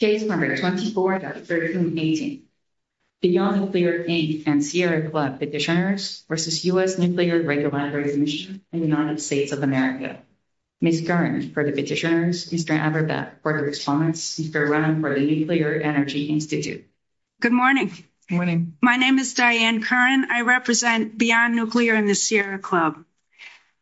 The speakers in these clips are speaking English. Case No. 24-13-18, Beyond Nuclear Inc. and Sierra Club Petitioners v. U.S. Nuclear Regulatory Commission in the United States of America. Ms. Curran, for the petitioners, Mr. Aberdech, for the respondents, Mr. Rahn, for the Nuclear Energy Institute. Good morning. Good morning. My name is Diane Curran. I represent Beyond Nuclear and the Sierra Club.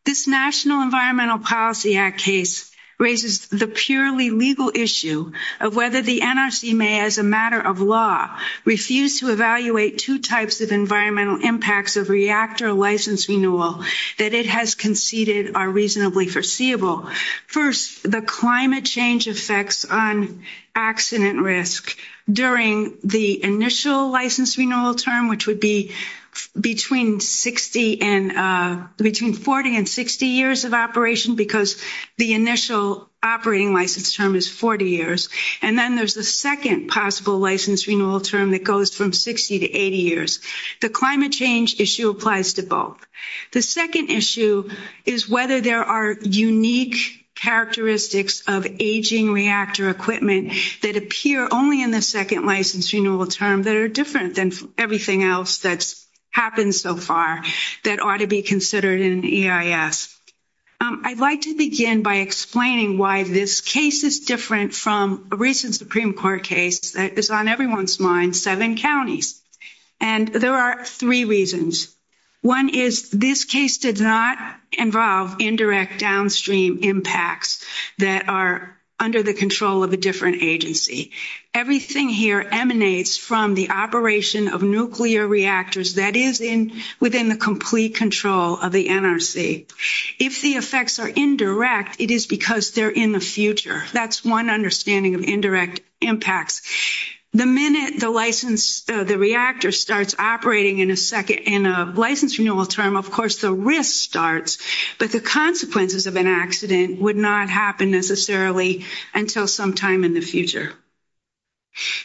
This National Environmental Policy Act case raises the purely legal issue of whether the NRC may, as a matter of law, refuse to evaluate two types of environmental impacts of reactor license renewal that it has conceded are reasonably foreseeable. First, the climate change effects on accident risk during the initial license renewal term, which would be between 40 and 60 years of operation, because the initial operating license term is 40 years. And then there's the second possible license renewal term that goes from 60 to 80 years. The climate change issue applies to both. The second issue is whether there are unique characteristics of aging reactor equipment that appear only in the second license renewal term that are different than everything else that's happened so far that ought to be considered in EIS. I'd like to begin by explaining why this case is different from a recent Supreme Court case that is on everyone's mind, seven counties. And there are three reasons. One is this case did not involve indirect downstream impacts that are under the control of a different agency. Everything here emanates from the operation of nuclear reactors that is within the complete control of the NRC. If the effects are indirect, it is because they're in the future. That's one understanding of indirect impacts. The minute the reactor starts operating in a license renewal term, of course, the risk starts, but the consequences of an accident would not happen necessarily until sometime in the future.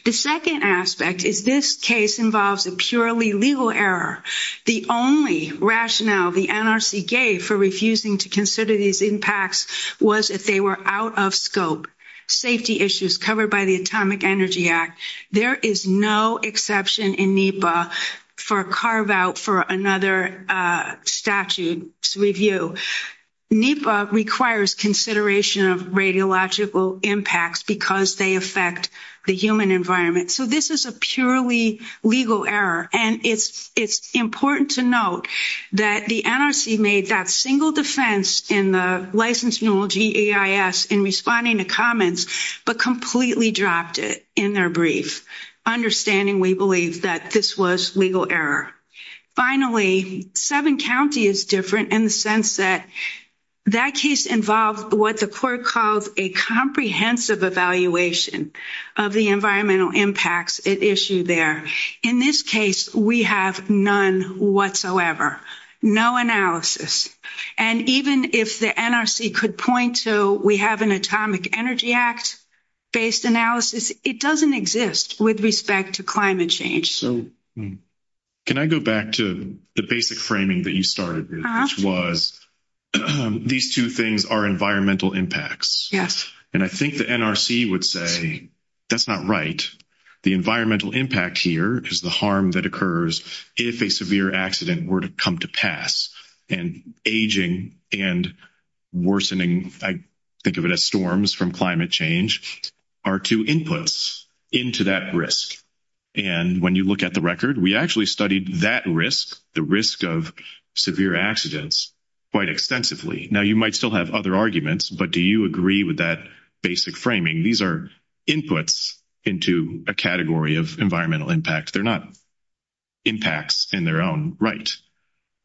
The second aspect is this case involves a purely legal error. The only rationale the NRC gave for refusing to consider these impacts was that they were out of scope. Safety issues covered by the Atomic Energy Act. There is no exception in NEPA for carve out for another statute review. NEPA requires consideration of radiological impacts because they affect the human environment. So this is a purely legal error. And it's important to note that the NRC made that single defense in the license renewal GAIS in responding to comments, but completely dropped it in their brief, understanding, we believe, that this was legal error. Finally, seven counties is different in the sense that that case involved what the court called a comprehensive evaluation of the environmental impacts at issue there. In this case, we have none whatsoever. No analysis. And even if the NRC could point to we have an Atomic Energy Act-based analysis, it doesn't exist with respect to climate change. Can I go back to the basic framing that you started with, which was these two things are environmental impacts. Yes. And I think the NRC would say that's not right. The environmental impact here is the harm that occurs if a severe accident were to come to pass. And aging and worsening, I think of it as storms from climate change, are two inputs into that risk. And when you look at the record, we actually studied that risk, the risk of severe accidents, quite extensively. Now, you might still have other arguments, but do you agree with that basic framing? These are inputs into a category of environmental impact. They're not impacts in their own right.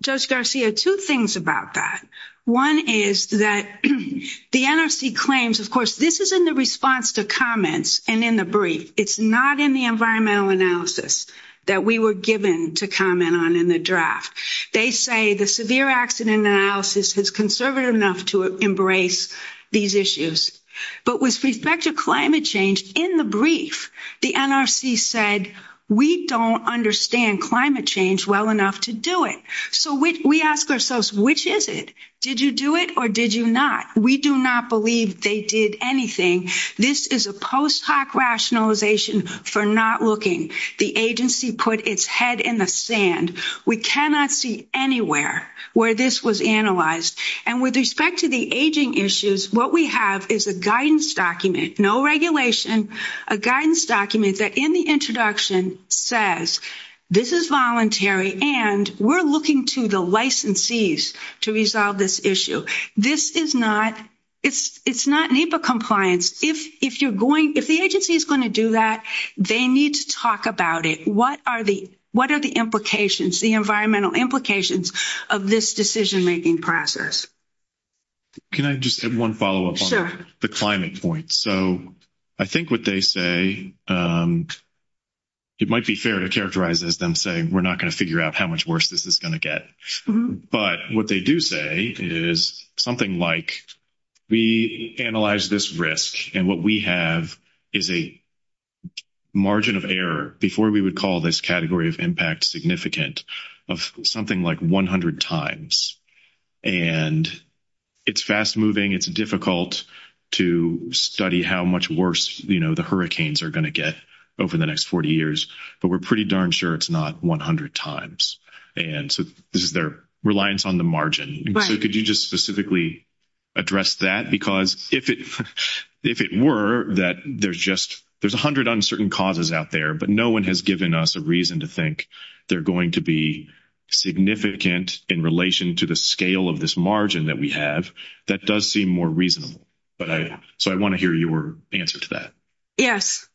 Judge Garcia, two things about that. One is that the NRC claims, of course, this is in the response to comments and in the brief. It's not in the environmental analysis that we were given to comment on in the draft. They say the severe accident analysis is conservative enough to embrace these issues. But with respect to climate change, in the brief, the NRC said we don't understand climate change well enough to do it. So we ask ourselves, which is it? Did you do it or did you not? We do not believe they did anything. This is a post hoc rationalization for not looking. The agency put its head in the sand. We cannot see anywhere where this was analyzed. With respect to the aging issues, what we have is a guidance document, no regulation, a guidance document that in the introduction says this is voluntary and we're looking to the licensees to resolve this issue. This is not NEPA compliance. If the agency is going to do that, they need to talk about it. What are the implications, the environmental implications of this decision-making process? Can I just add one follow-up on the climate point? So I think what they say, it might be fair to characterize this and say we're not going to figure out how much worse this is going to get. But what they do say is something like we analyze this risk and what we have is a margin of error, before we would call this category of impact significant, of something like 100 times. And it's fast-moving. It's difficult to study how much worse the hurricanes are going to get over the next 40 years. But we're pretty darn sure it's not 100 times. And so this is their reliance on the margin. So could you just specifically address that? Because if it were that there's just, there's 100 uncertain causes out there, but no one has given us a reason to think they're going to be significant in relation to the scale of this margin that we have, that does seem more reasonable. So I want to hear your answer to that. Yes.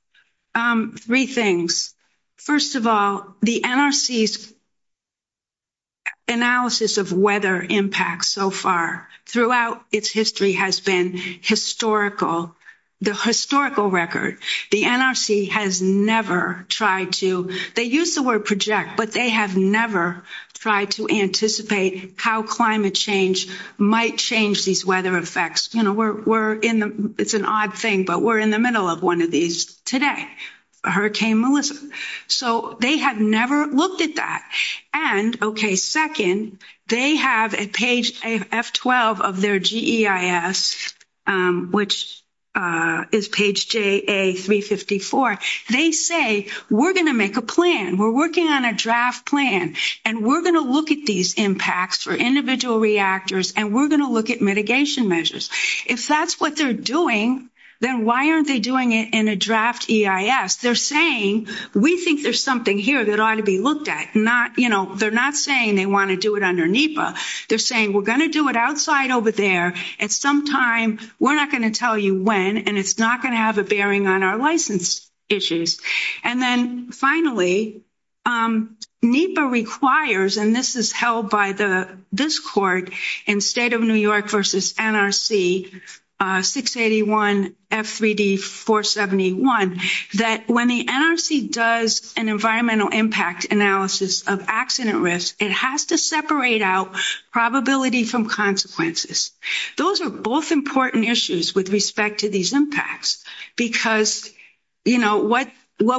Three things. First of all, the NRC's analysis of weather impacts so far throughout its history has been historical, the historical record. The NRC has never tried to, they use the word project, but they have never tried to anticipate how climate change might change these weather effects. You know, we're in, it's an odd thing, but we're in the middle of one of these today. Hurricane Melissa. So they have never looked at that. And, okay, second, they have at page F12 of their GEIS, which is page JA354, they say we're going to make a plan, we're working on a draft plan, and we're going to look at these impacts for individual reactors and we're going to look at mitigation measures. If that's what they're doing, then why aren't they doing it in a draft EIS? They're saying we think there's something here that ought to be looked at. You know, they're not saying they want to do it under NEPA. They're saying we're going to do it outside over there at some time. We're not going to tell you when, and it's not going to have a bearing on our license issues. And then, finally, NEPA requires, and this is held by this court in State of New York versus NRC 681 F3D 471, that when the NRC does an environmental impact analysis of accident risk, it has to separate out probability from consequences. Those are both important issues with respect to these impacts because, you know, what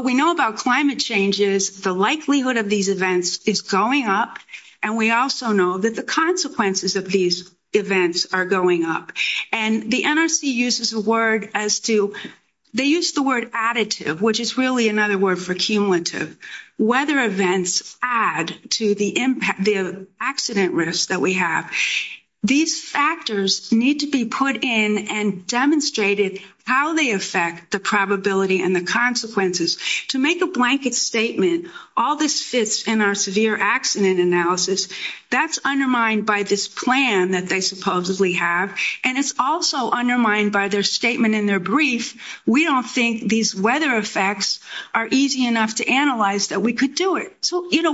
we know about climate change is the likelihood of these events is going up, and we also know that the consequences of these events are going up. And the NRC uses the word as to – they use the word additive, which is really another word for cumulative. Weather events add to the accident risk that we have. These factors need to be put in and demonstrated how they affect the probability and the consequences. To make a blanket statement, all this fits in our severe accident analysis, that's undermined by this plan that they supposedly have, and it's also undermined by their statement in their brief, we don't think these weather effects are easy enough to analyze that we could do it. So, you know,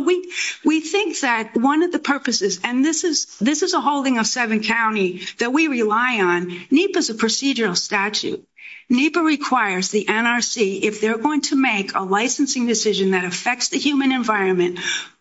we think that one of the purposes, and this is a holding of seven counties that we rely on, NEPA is a procedural statute. NEPA requires the NRC, if they're going to make a licensing decision that affects the human environment,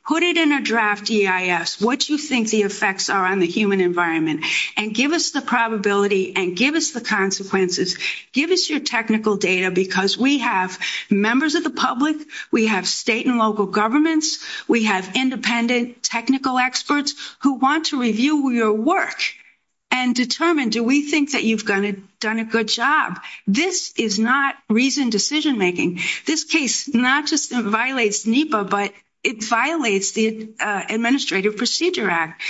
put it in a draft EIS, what you think the effects are on the human environment, and give us the probability and give us the consequences, give us your technical data, because we have members of the public, we have state and local governments, we have independent technical experts who want to review your work and determine do we think that you've done a good job. This is not reasoned decision making. This case not just violates NEPA, but it violates the Administrative Procedure Act.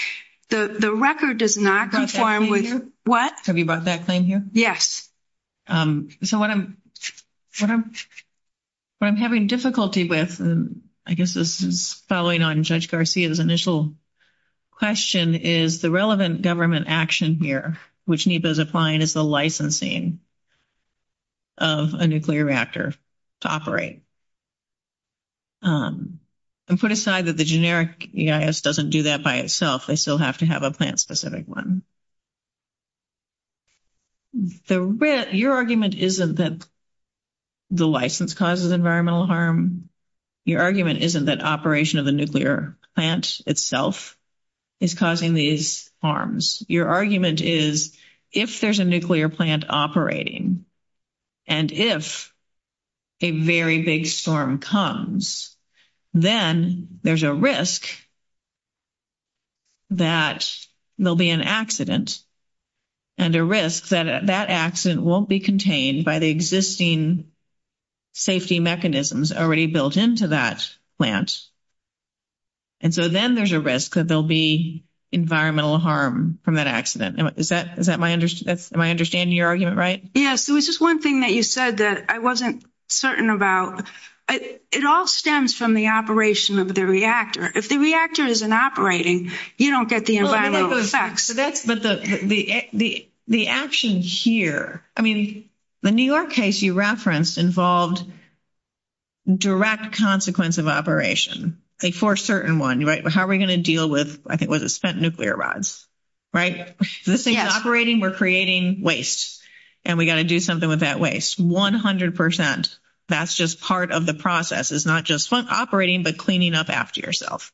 The record does not conform with your... Have you brought that thing here? Yes. So what I'm having difficulty with, and I guess this is following on Judge Garcia's initial question, is the relevant government action here, which NEPA is applying, is the licensing of a nuclear reactor to operate. And put aside that the generic EIS doesn't do that by itself, they still have to have a plant-specific one. So your argument isn't that the license causes environmental harm. Your argument isn't that operation of the nuclear plant itself is causing these harms. Your argument is if there's a nuclear plant operating, and if a very big storm comes, then there's a risk that there'll be an accident, and a risk that that accident won't be contained by the existing safety mechanisms already built into that plant. And so then there's a risk that there'll be environmental harm from that accident. Am I understanding your argument right? Yes. It was just one thing that you said that I wasn't certain about. It all stems from the operation of the reactor. If the reactor isn't operating, you don't get the environmental effects. The action here, I mean, the New York case you referenced involved direct consequence of operation for a certain one, right? How are we going to deal with, I think it was spent nuclear rods, right? This thing's operating, we're creating waste, and we've got to do something with that waste. One hundred percent, that's just part of the process. It's not just operating, but cleaning up after yourself,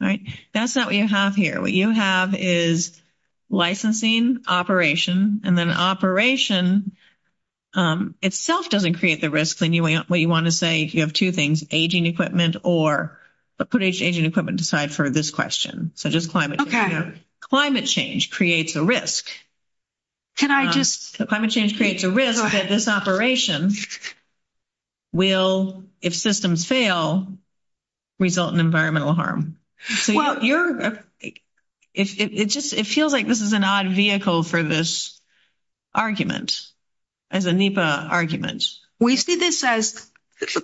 right? That's not what you have here. What you have is licensing, operation, and then operation itself doesn't create the risk. What you want to say is you have two things, aging equipment or put aging equipment aside for this question. So just climate change. Climate change creates a risk. Can I just... Climate change creates a risk that this operation will, if systems fail, result in environmental harm. It feels like this is an odd vehicle for this argument, as a NEPA argument. We see this as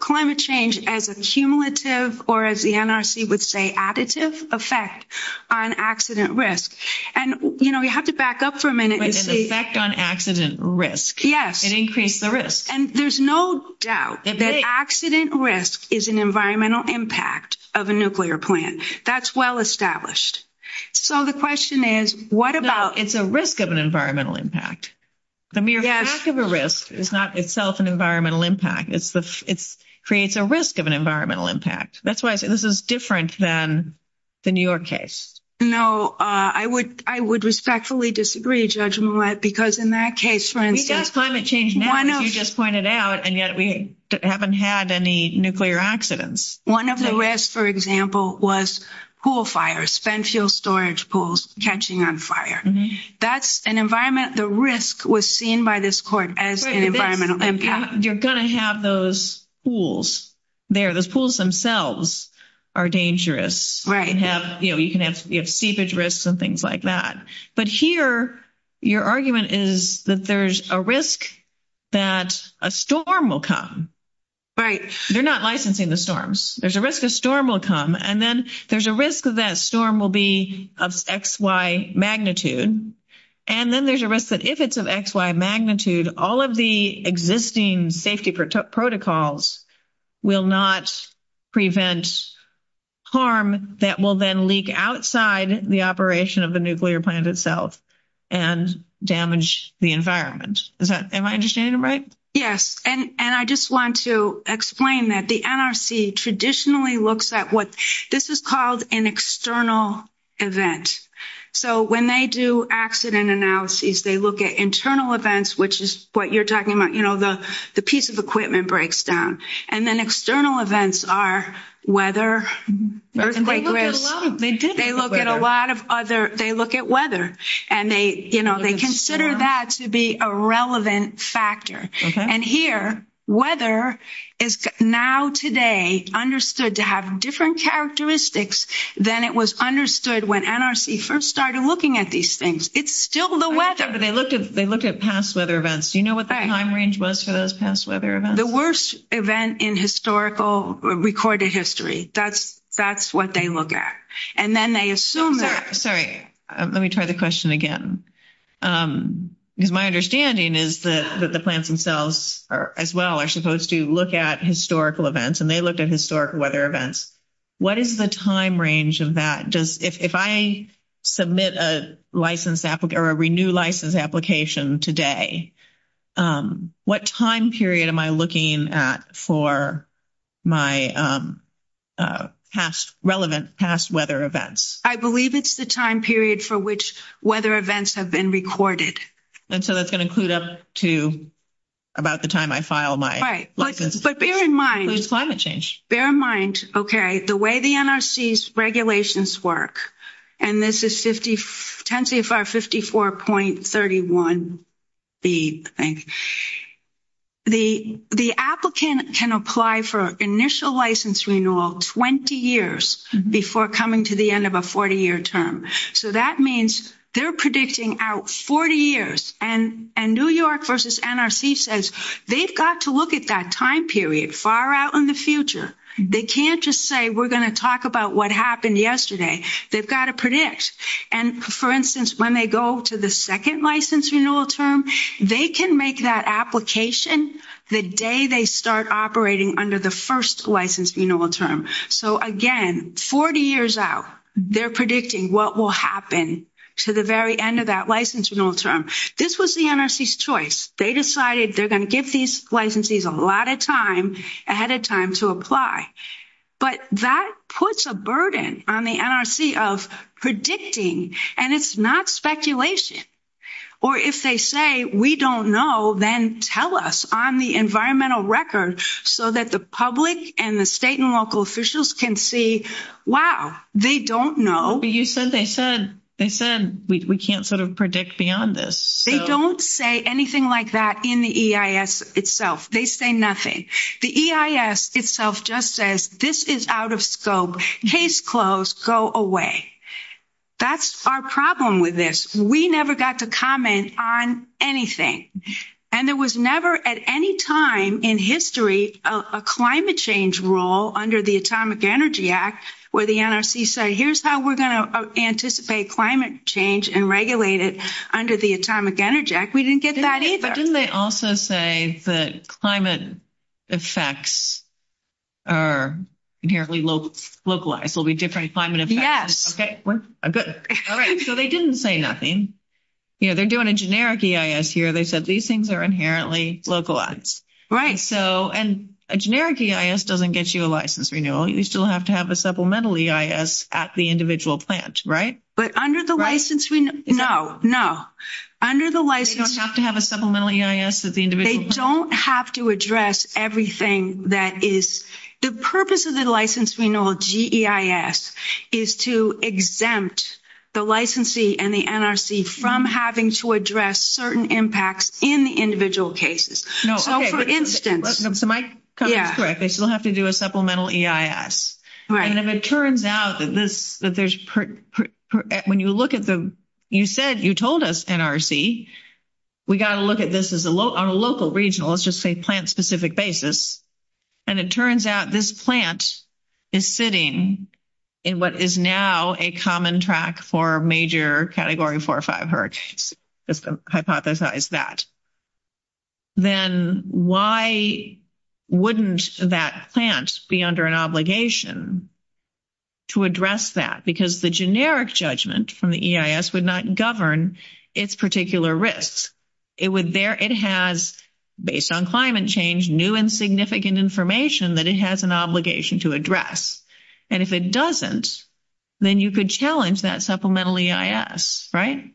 climate change as a cumulative or, as the NRC would say, additive effect on accident risk. And, you know, you have to back up for a minute. With an effect on accident risk. Yes. It increased the risk. And there's no doubt that accident risk is an environmental impact of a nuclear plant. That's well established. So the question is, what about... No, it's a risk of an environmental impact. The mere fact of a risk is not itself an environmental impact. It creates a risk of an environmental impact. That's why I say this is different than the New York case. No, I would respectfully disagree, Judge Millett, because in that case, for instance... Because climate change now, as you just pointed out, and yet we haven't had any nuclear accidents. One of the risks, for example, was pool fires, spent fuel storage pools catching on fire. That's an environment, the risk was seen by this court as an environmental impact. You're going to have those pools there. The pools themselves are dangerous. Right. You can have seepage risks and things like that. But here, your argument is that there's a risk that a storm will come. Right. You're not licensing the storms. There's a risk a storm will come. And then there's a risk that storm will be of XY magnitude. And then there's a risk that if it's of XY magnitude, all of the existing safety protocols will not prevent harm that will then leak outside the operation of the nuclear plant itself and damage the environment. Am I understanding it right? Yes. And I just want to explain that the NRC traditionally looks at what... This is called an external event. So when they do accident analyses, they look at internal events, which is what you're talking about. You know, the piece of equipment breaks down. And then external events are weather, earthquake risk. They look at a lot of other... They look at weather. And they, you know, they consider that to be a relevant factor. Okay. And here, weather is now today understood to have different characteristics than it was understood when NRC first started looking at these things. It's still the weather. They look at past weather events. Do you know what the time range was for those past weather events? The worst event in historical recorded history. That's what they look at. And then they assume that... Sorry. Let me try the question again. Because my understanding is that the plants themselves as well are supposed to look at historical events. And they looked at historical weather events. What is the time range of that? If I submit a license or a renewed license application today, what time period am I looking at for my relevant past weather events? I believe it's the time period for which weather events have been recorded. And so that's going to include up to about the time I file my license. Right. But bear in mind... There's climate change. Bear in mind, okay, the way the NRC's regulations work, and this is 10CFR 54.31B, I think. The applicant can apply for initial license renewal 20 years before coming to the end of a 40-year term. So that means they're predicting out 40 years. And New York versus NRC says they've got to look at that time period far out in the future. They can't just say we're going to talk about what happened yesterday. They've got to predict. And, for instance, when they go to the second license renewal term, they can make that application the day they start operating under the first license renewal term. So, again, 40 years out, they're predicting what will happen to the very end of that license renewal term. This was the NRC's choice. They decided they're going to get these licenses a lot of time ahead of time to apply. But that puts a burden on the NRC of predicting, and it's not speculation. Or if they say we don't know, then tell us on the environmental record so that the public and the state and local officials can see, wow, they don't know. But you said they said we can't sort of predict beyond this. They don't say anything like that in the EIS itself. They say nothing. The EIS itself just says this is out of scope. Case closed. Go away. That's our problem with this. We never got to comment on anything. And there was never at any time in history a climate change rule under the Atomic Energy Act where the NRC said here's how we're going to anticipate climate change and regulate it under the Atomic Energy Act. We didn't get that either. Didn't they also say that climate effects are inherently localized? There will be different climate effects. Okay. Good. All right. So they didn't say nothing. You know, they're doing a generic EIS here. They said these things are inherently localized. Right. So and a generic EIS doesn't get you a license renewal. You still have to have a supplemental EIS at the individual plant, right? But under the license renewal, no, no. Under the license renewal. You don't have to have a supplemental EIS at the individual plant. They don't have to address everything that is the purpose of the license renewal, GEIS, is to exempt the licensee and the NRC from having to address certain impacts in the individual cases. No. For instance. Am I correct? I still have to do a supplemental EIS. Right. And if it turns out that this, that there's, when you look at the, you said, you told us, NRC, we got to look at this as a local, on a local, regional, let's just say plant specific basis. And it turns out this plant is sitting in what is now a common track for major category 4 or 5 hertz. Hypothesize that. Then why wouldn't that plant be under an obligation to address that? Because the generic judgment from the EIS would not govern its particular risk. It has, based on climate change, new and significant information that it has an obligation to address. And if it doesn't, then you could challenge that supplemental EIS, right?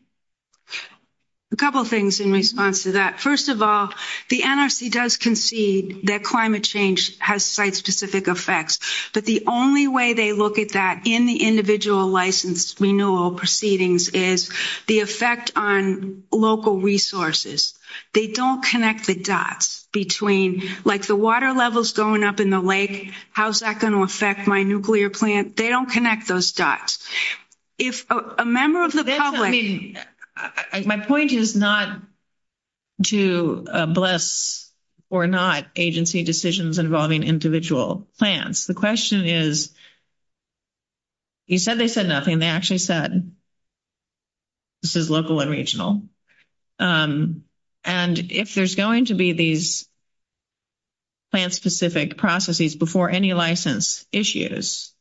A couple of things in response to that. First of all, the NRC does concede that climate change has site specific effects. But the only way they look at that in the individual license renewal proceedings is the effect on local resources. They don't connect the dots between, like, the water levels going up in the lake, how's that going to affect my nuclear plant? They don't connect those dots. If a member of the public... My point is not to bless or not agency decisions involving individual plants. The question is, you said they said nothing. They actually said this is local and regional. And if there's going to be these plant-specific processes before any license issues,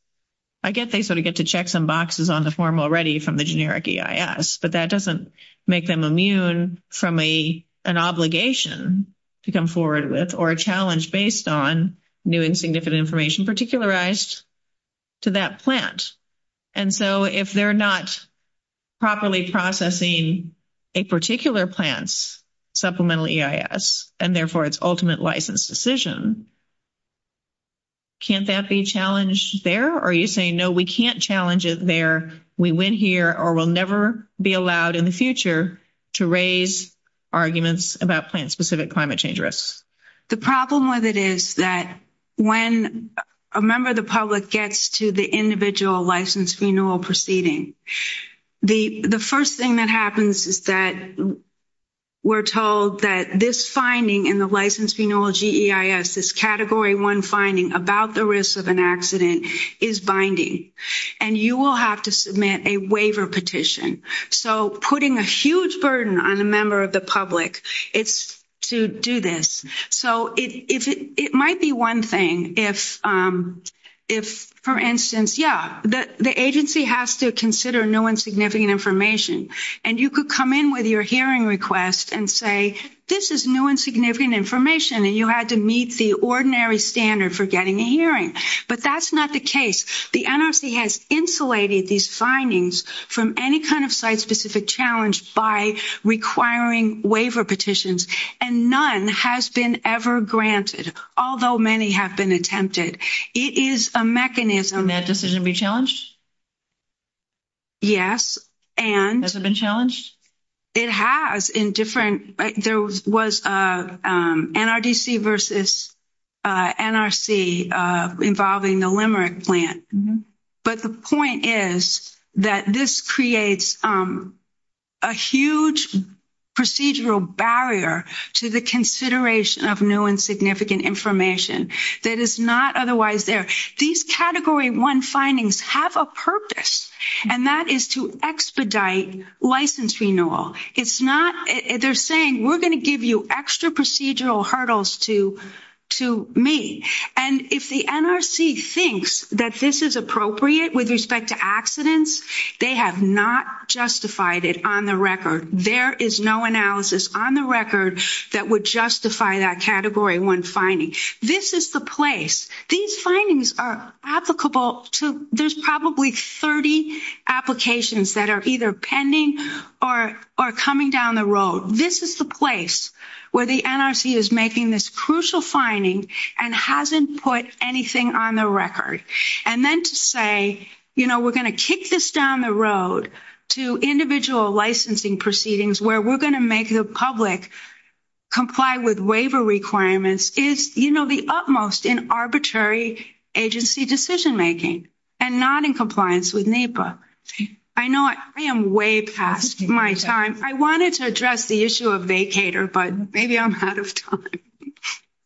I get they sort of get to check some boxes on the form already from the generic EIS, but that doesn't make them immune from an obligation to come forward with or a challenge based on new and significant information particularized to that plant. And so if they're not properly processing a particular plant's supplemental EIS, and therefore its ultimate license decision, can't that be challenged there? Or are you saying, no, we can't challenge it there, we win here, or we'll never be allowed in the future to raise arguments about plant-specific climate change risks? The problem with it is that when a member of the public gets to the individual license renewal proceeding, the first thing that happens is that we're told that this finding in the license renewal GEIS, this Category 1 finding about the risk of an accident, is binding. And you will have to submit a waiver petition. So putting a huge burden on a member of the public is to do this. So it might be one thing if, for instance, yeah, the agency has to consider new and significant information, and you could come in with your hearing request and say, this is new and significant information, and you had to meet the ordinary standard for getting a hearing. But that's not the case. The NRC has insulated these findings from any kind of site-specific challenge by requiring waiver petitions, and none has been ever granted, although many have been attempted. It is a mechanism. Can that decision be challenged? Yes. Has it been challenged? It has in different ñ there was NRDC versus NRC involving the Limerick plant. But the point is that this creates a huge procedural barrier to the consideration of new and significant information that is not otherwise there. These Category 1 findings have a purpose, and that is to expedite license renewal. It's not ñ they're saying we're going to give you extra procedural hurdles to meet. And if the NRC thinks that this is appropriate with respect to accidents, they have not justified it on the record. There is no analysis on the record that would justify that Category 1 finding. This is the place. These findings are applicable to ñ there's probably 30 applications that are either pending or coming down the road. This is the place where the NRC is making this crucial finding and hasn't put anything on the record. And then to say, you know, we're going to kick this down the road to individual licensing proceedings where we're going to make the public comply with waiver requirements is, you know, the utmost in arbitrary agency decision-making and not in compliance with NEPA. I know I am way past my time. I wanted to address the issue of vacator, but maybe I'm out of time.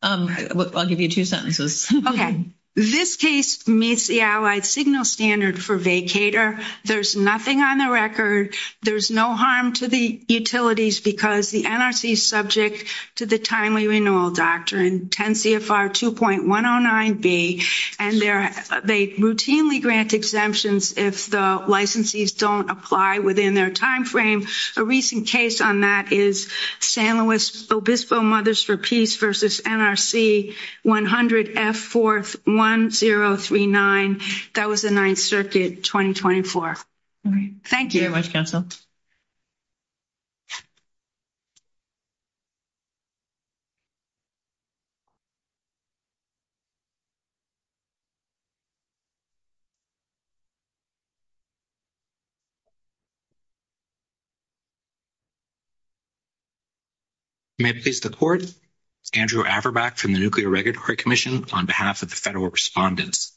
I'll give you two sentences. Okay. This case meets the Allied Signal Standard for vacator. There's nothing on the record. There's no harm to the utilities because the NRC is subject to the timely renewal doctrine, 10 CFR 2.109B, and they routinely grant exemptions if the licensees don't apply within their timeframe. A recent case on that is San Luis Obispo Mothers for Peace versus NRC 100F41039. That was the Ninth Circuit, 2024. All right. Thank you very much, Council. May I please have the floor? Andrew Averbeck from the Nuclear Regulatory Commission on behalf of the Federal Respondents.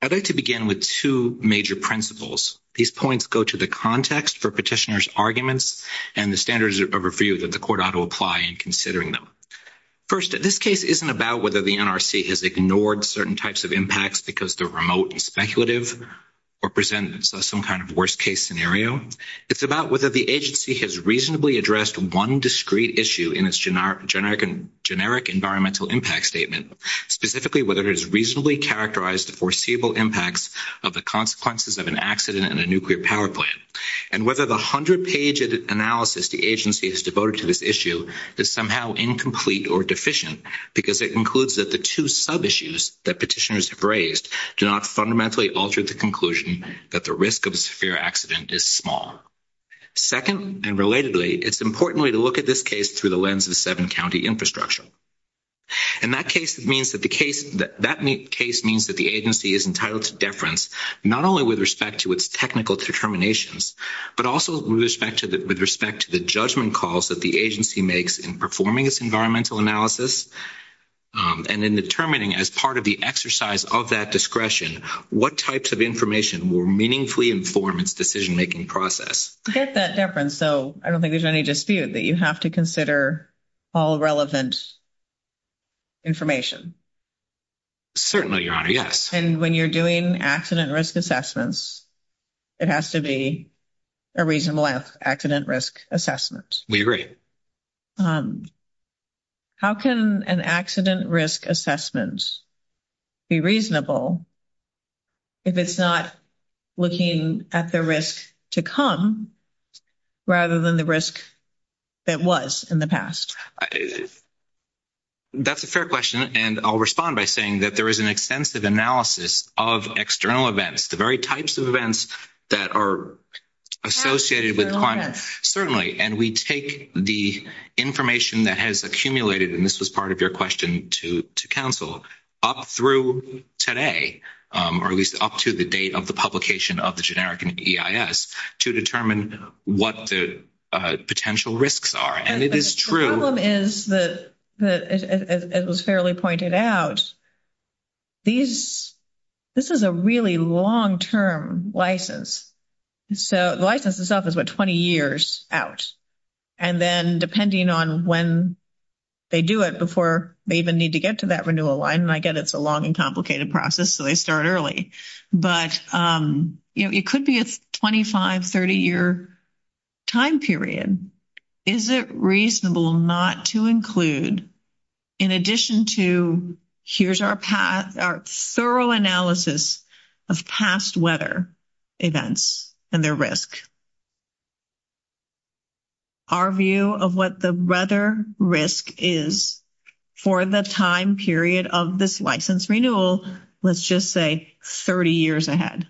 I'd like to begin with two major principles. These points go to the context for petitioner's arguments and the standards of review that the court ought to apply in considering them. First, this case isn't about whether the NRC has ignored certain types of impacts because they're remote and speculative or present as some kind of worst-case scenario. It's about whether the agency has reasonably addressed one discrete issue in its generic environmental impact statement, specifically whether it has reasonably characterized the foreseeable impacts of the consequences of an accident in a nuclear power plant, and whether the 100-page analysis the agency has devoted to this issue is somehow incomplete or deficient because it includes that the two sub-issues that petitioners have raised do not fundamentally alter the conclusion that the risk of a severe accident is small. Second, and relatedly, it's important to look at this case through the lens of seven-county infrastructure. And that case means that the agency is entitled to deference not only with respect to its technical determinations, but also with respect to the judgment calls that the agency makes in performing its environmental analysis and in determining as part of the exercise of that discretion what types of information will meaningfully inform its decision-making process. I get that deference, so I don't think there's any dispute that you have to consider all relevant information. Certainly, Your Honor, yes. And when you're doing accident risk assessments, it has to be a reasonable accident risk assessment. We agree. How can an accident risk assessment be reasonable if it's not looking at the risk to come rather than the risk that was in the past? That's a fair question, and I'll respond by saying that there is an extensive analysis of external events, the very types of events that are associated with climate. Certainly, and we take the information that has accumulated, and this was part of your question to counsel, up through today, or at least up to the date of the publication of the generic EIS to determine what the potential risks are, and it is true. The problem is that, as was fairly pointed out, this is a really long-term license. So the license itself is about 20 years out, and then depending on when they do it before they even need to get to that renewal line, and I get it's a long and complicated process, so they start early, but it could be a 25, 30-year time period. Is it reasonable not to include, in addition to, here's our thorough analysis of past weather events and their risk? Our view of what the weather risk is for the time period of this license renewal, let's just say 30 years ahead.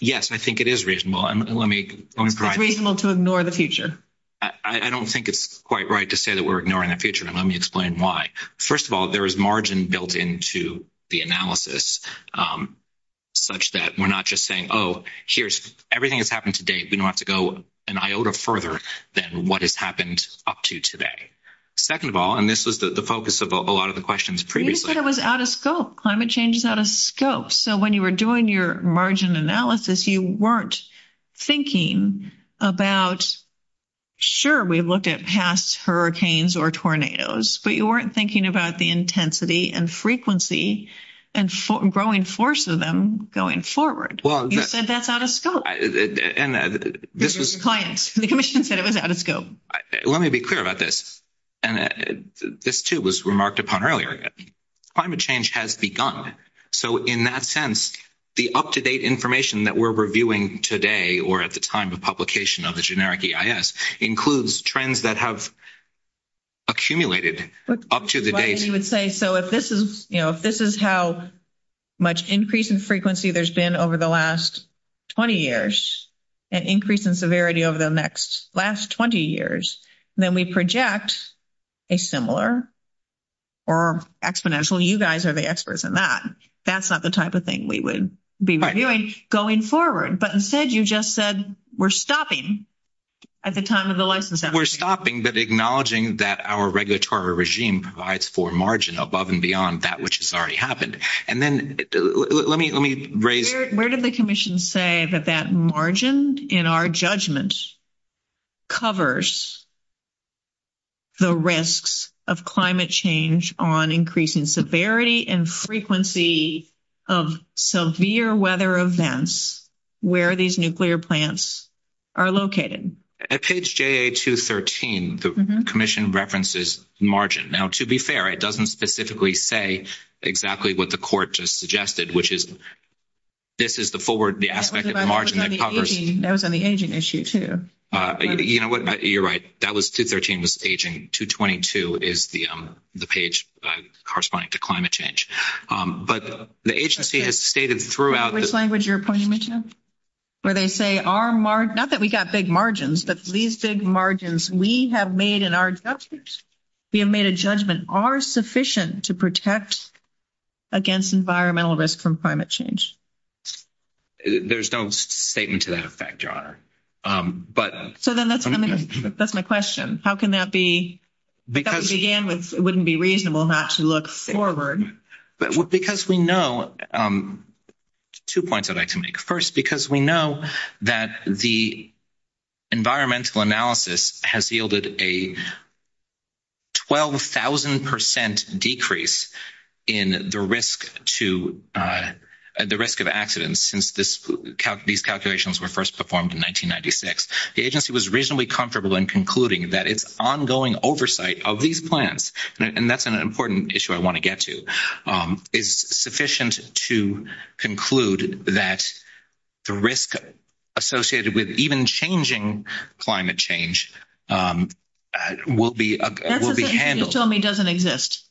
Yes, I think it is reasonable. It's reasonable to ignore the future. I don't think it's quite right to say that we're ignoring the future, and let me explain why. First of all, there is margin built into the analysis, such that we're not just saying, oh, here's everything that's happened to date. We don't have to go an iota further than what has happened up to today. Second of all, and this was the focus of a lot of the questions previously. You said it was out of scope. Climate change is out of scope. So when you were doing your margin analysis, you weren't thinking about, sure, we've looked at past hurricanes or tornadoes, but you weren't thinking about the intensity and frequency and growing force of them going forward. You said that's out of scope. The commission said it was out of scope. Let me be clear about this. This, too, was remarked upon earlier. Climate change has begun. So in that sense, the up-to-date information that we're reviewing today or at the time of publication of the generic EIS includes trends that have accumulated up to the date. So if this is how much increase in frequency there's been over the last 20 years and increase in severity over the next last 20 years, then we project a similar or exponential. You guys are the experts in that. That's not the type of thing we would be reviewing going forward. But instead, you just said we're stopping at the time of the license. We're stopping but acknowledging that our regulatory regime provides for margin above and beyond that which has already happened. And then let me raise – Where did the commission say that that margin in our judgment covers the risks of climate change on increasing severity and frequency of severe weather events where these nuclear plants are located? At page JA213, the commission references margin. Now, to be fair, it doesn't specifically say exactly what the court just suggested, which is this is the forward aspect of the margin that covers – That was on the aging issue too. You know what? You're right. That was – 213 was aging. 222 is the page corresponding to climate change. But the agency has stated throughout – Which language you're pointing me to? Where they say our – not that we got big margins, but these big margins we have made in our judgments, we have made a judgment are sufficient to protect against environmental risk from climate change. There's no statement to that effect, Your Honor. But – So then that's my question. How can that be – that began with it wouldn't be reasonable not to look forward. Because we know – two points I'd like to make. First, because we know that the environmental analysis has yielded a 12,000 percent decrease in the risk to – the risk of accidents since these calculations were first performed in 1996. The agency was reasonably comfortable in concluding that its ongoing oversight of these plants – and that's an important issue I want to get to – is sufficient to conclude that the risk associated with even changing climate change will be handled. That's the thing you just told me doesn't exist.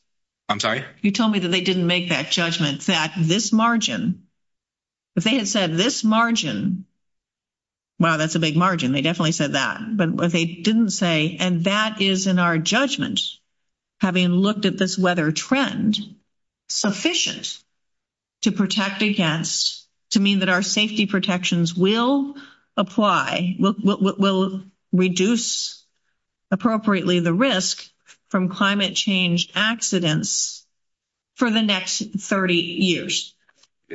I'm sorry? You told me that they didn't make that judgment that this margin – if they had said this margin – wow, that's a big margin. They definitely said that. But they didn't say – and that is in our judgment, having looked at this weather trend, sufficient to protect against – to mean that our safety protections will apply – will reduce appropriately the risk from climate change accidents for the next 30 years.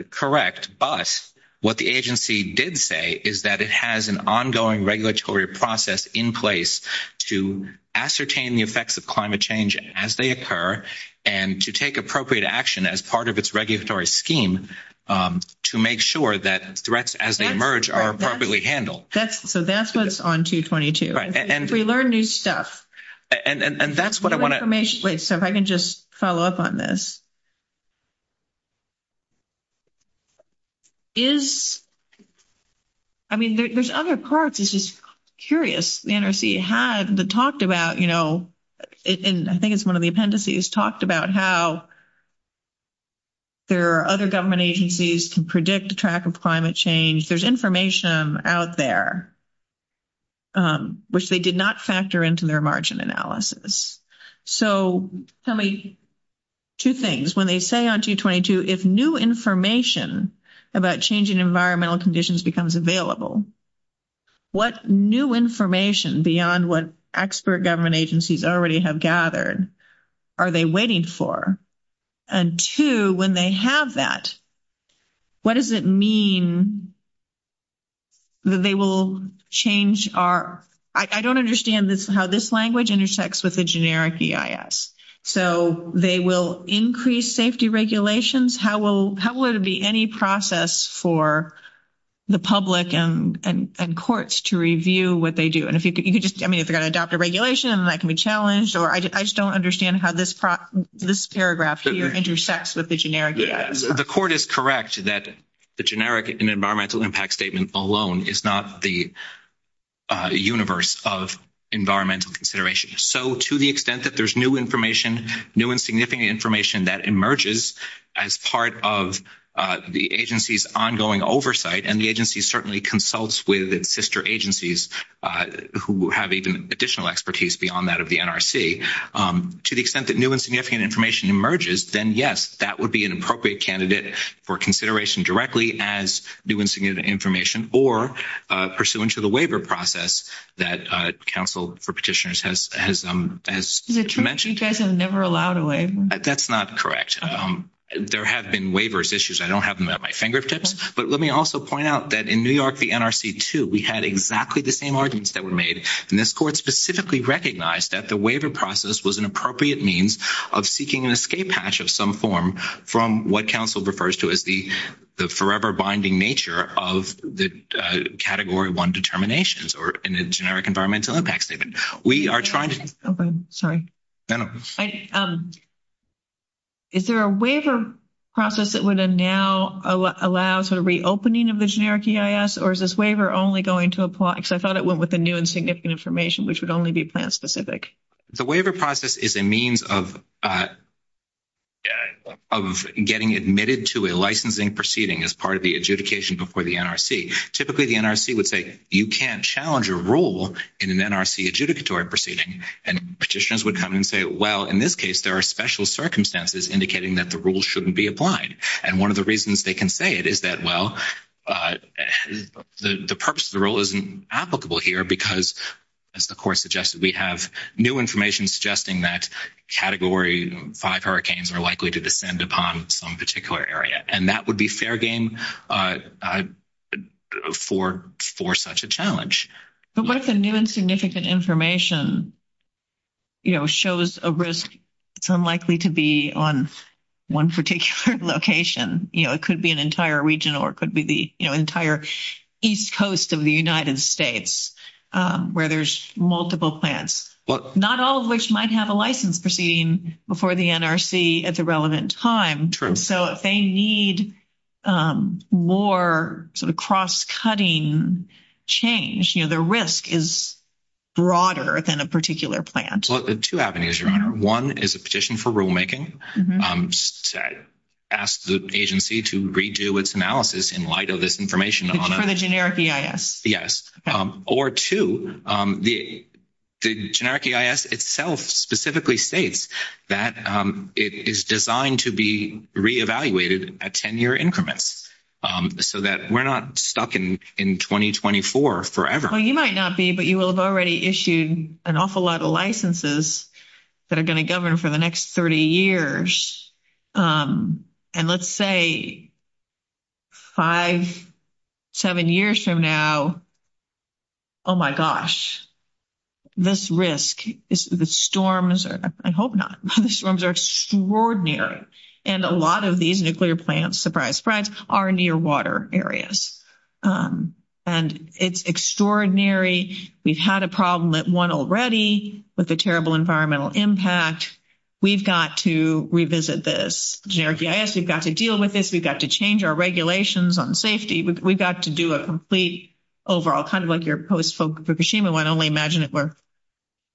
Correct. But what the agency did say is that it has an ongoing regulatory process in place to ascertain the effects of climate change as they occur and to take appropriate action as part of its regulatory scheme to make sure that threats as they emerge are appropriately handled. So that's what's on 222. Right. We learn new stuff. And that's what I want to – Wait, so if I can just follow up on this. Is – I mean, there's other parts. It's just curious. The NRC had talked about, you know – and I think it's one of the appendices – talked about how there are other government agencies can predict the track of climate change. There's information out there which they did not factor into their margin analysis. So tell me two things. One is when they say on 222, if new information about changing environmental conditions becomes available, what new information beyond what expert government agencies already have gathered, are they waiting for? And two, when they have that, what does it mean that they will change our – I don't understand how this language intersects with the generic EIS. So they will increase safety regulations? How will it be any process for the public and courts to review what they do? And if you could just – I mean, if they're going to adopt the regulation, that can be challenged. Or I just don't understand how this paragraph here intersects with the generic EIS. The court is correct that the generic environmental impact statement alone is not the universe of environmental consideration. So to the extent that there's new information, new and significant information that emerges as part of the agency's ongoing oversight, and the agency certainly consults with sister agencies who have even additional expertise beyond that of the NRC, to the extent that new and significant information emerges, then yes, that would be an appropriate candidate for consideration directly as new and significant information or pursuant to the waiver process that counsel for petitioners has mentioned. You guys have never allowed a waiver. That's not correct. There have been waivers issues. I don't have them at my fingertips. But let me also point out that in New York, the NRC, too, we had exactly the same arguments that were made. And this court specifically recognized that the waiver process was an appropriate means of seeking an escape hatch of some form from what counsel refers to as the forever binding nature of the Category 1 determinations or in the generic environmental impact statement. We are trying to – Sorry. No, no. Is there a waiver process that would now allow sort of reopening of the generic EIS, or is this waiver only going to apply? Because I thought it went with the new and significant information, which would only be plan-specific. The waiver process is a means of getting admitted to a licensing proceeding as part of the adjudication before the NRC. Typically, the NRC would say, you can't challenge a rule in an NRC adjudicatory proceeding. And petitioners would come in and say, well, in this case, there are special circumstances indicating that the rule shouldn't be applied. And one of the reasons they can say it is that, well, the purpose of the rule isn't applicable here because, as the court suggested, we have new information suggesting that Category 5 hurricanes are likely to descend upon some particular area. And that would be fair game for such a challenge. But what if the new and significant information, you know, shows a risk for likely to be on one particular location? You know, it could be an entire region, or it could be the entire east coast of the United States, where there's multiple plans. Not all of which might have a license proceeding before the NRC at the relevant time. So if they need more sort of cross-cutting change, you know, the risk is broader than a particular plan. Well, two avenues, your Honor. One is a petition for rulemaking. Ask the agency to redo its analysis in light of this information. For the generic EIS. Yes. Or two, the generic EIS itself specifically states that it is designed to be re-evaluated at 10-year increments so that we're not stuck in 2024 forever. Well, you might not be, but you will have already issued an awful lot of licenses that are going to govern for the next 30 years. And let's say five, seven years from now, oh, my gosh. This risk, the storms, I hope not. The storms are extraordinary. And a lot of these nuclear plants, surprise, surprise, are near water areas. And it's extraordinary. We've had a problem at one already with a terrible environmental impact. We've got to revisit this generic EIS. We've got to deal with this. We've got to change our regulations on safety. We've got to do a complete overall, kind of like your post Fukushima one, only imagine it were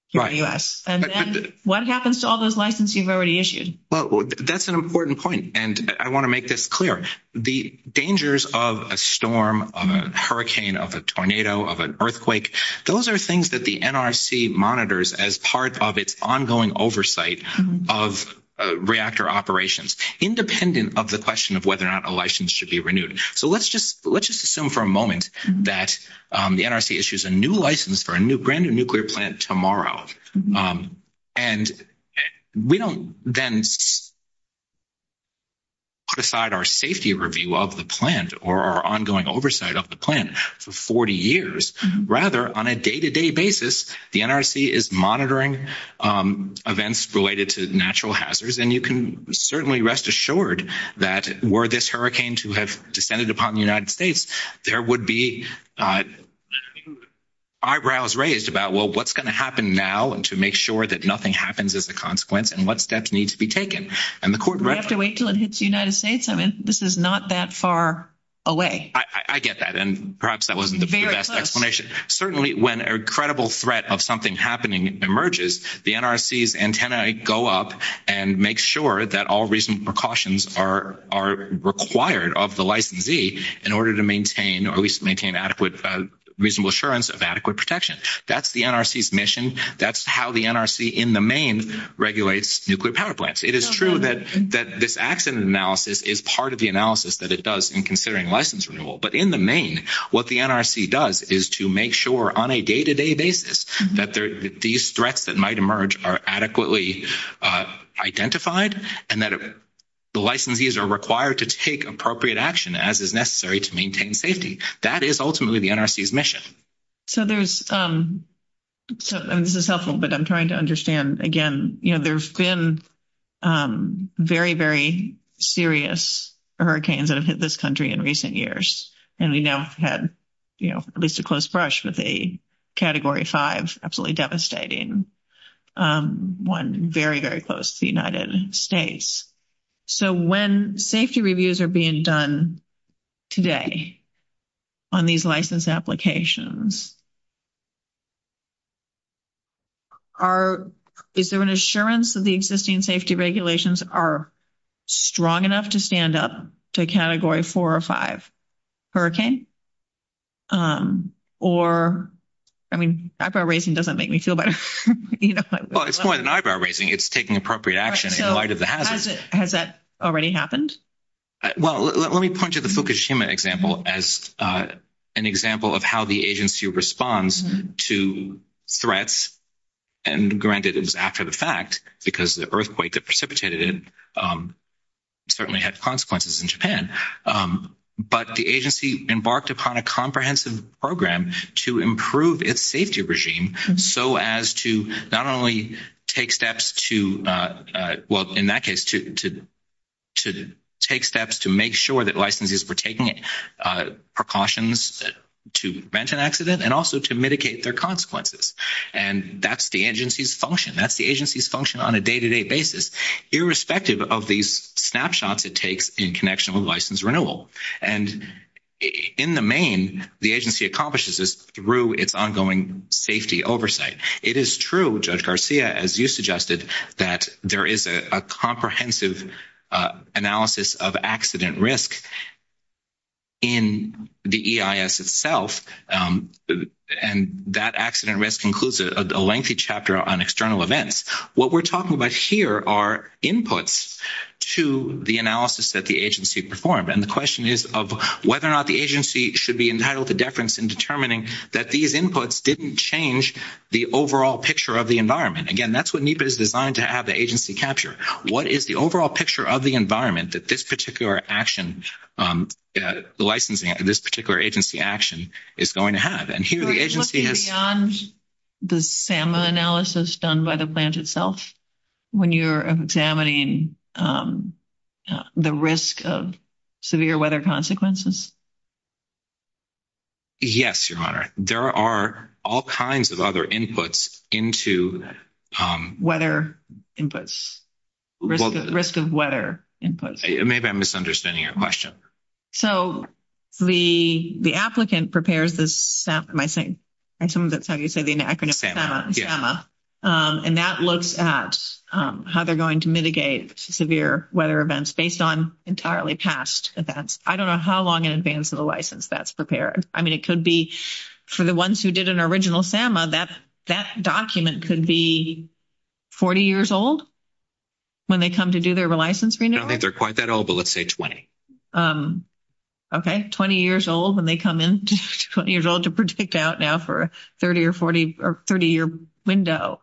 here in the U.S. And then what happens to all those licenses you've already issued? Well, that's an important point. And I want to make this clear. The dangers of a storm, of a hurricane, of a tornado, of an earthquake, those are things that the NRC monitors as part of its ongoing oversight of reactor operations, independent of the question of whether or not a license should be renewed. So let's just assume for a moment that the NRC issues a new license for a brand-new nuclear plant tomorrow. And we don't then put aside our safety review of the plant or our ongoing oversight of the plant for 40 years. Rather, on a day-to-day basis, the NRC is monitoring events related to natural hazards. And you can certainly rest assured that were this hurricane to have descended upon the United States, there would be eyebrows raised about, well, what's going to happen now to make sure that nothing happens as a consequence and what steps need to be taken. And the court recommends that. We have to wait until it hits the United States. I mean, this is not that far away. I get that. And perhaps that wasn't the best explanation. Certainly, when a credible threat of something happening emerges, the NRC's antennae go up and make sure that all reasonable precautions are required of the licensee in order to maintain or at least maintain adequate reasonable assurance of adequate protection. That's the NRC's mission. That's how the NRC in the main regulates nuclear power plants. It is true that this accident analysis is part of the analysis that it does in considering license renewal. But in the main, what the NRC does is to make sure on a day-to-day basis that these threats that might emerge are adequately identified and that the licensees are required to take appropriate action as is necessary to maintain safety. That is ultimately the NRC's mission. So there's – this is helpful, but I'm trying to understand, again, you know, there's been very, very serious hurricanes that have hit this country in recent years. And we now have had, you know, at least a close brush with a Category 5, absolutely devastating, one very, very close to the United States. So when safety reviews are being done today on these license applications, is there an assurance that the existing safety regulations are strong enough to stand up to Category 4 or 5 hurricane? Or, I mean, eyebrow raising doesn't make me feel better. Well, it's more than eyebrow raising. It's taking appropriate action in light of the hazards. Has that already happened? Well, let me point to the Fukushima example as an example of how the agency responds to threats. And granted, it's after the fact because the earthquake that precipitated it certainly had consequences in Japan. But the agency embarked upon a comprehensive program to improve its safety regime so as to not only take steps to, well, in that case, to take steps to make sure that licenses were taken, precautions to prevent an accident, and also to mitigate their consequences. And that's the agency's function. That's the agency's function on a day-to-day basis, irrespective of these snapshots it takes in connection with license renewal. And in the main, the agency accomplishes this through its ongoing safety oversight. It is true, Judge Garcia, as you suggested, that there is a comprehensive analysis of accident risk in the EIS itself. And that accident risk includes a lengthy chapter on external events. What we're talking about here are inputs to the analysis that the agency performed. And the question is of whether or not the agency should be entitled to deference in determining that these inputs didn't change the overall picture of the environment. Again, that's what NEPA is designed to have the agency capture. What is the overall picture of the environment that this particular action, the licensing of this particular agency action is going to have? And here the agency has- Is the SAMA analysis done by the plant itself when you're examining the risk of severe weather consequences? Yes, Your Honor. There are all kinds of other inputs into- Weather inputs. Risk of weather inputs. Maybe I'm misunderstanding your question. So the applicant prepares this- Am I saying- I assume that's how you say the acronym SAMA. Yeah. And that looks at how they're going to mitigate severe weather events based on entirely past events. I don't know how long in advance of the license that's prepared. I mean, it could be for the ones who did an original SAMA, that document could be 40 years old when they come to do their license renewal. I don't think they're quite that old, but let's say 20. Okay, 20 years old, and they come in 20 years old to predict out now for a 30-year window.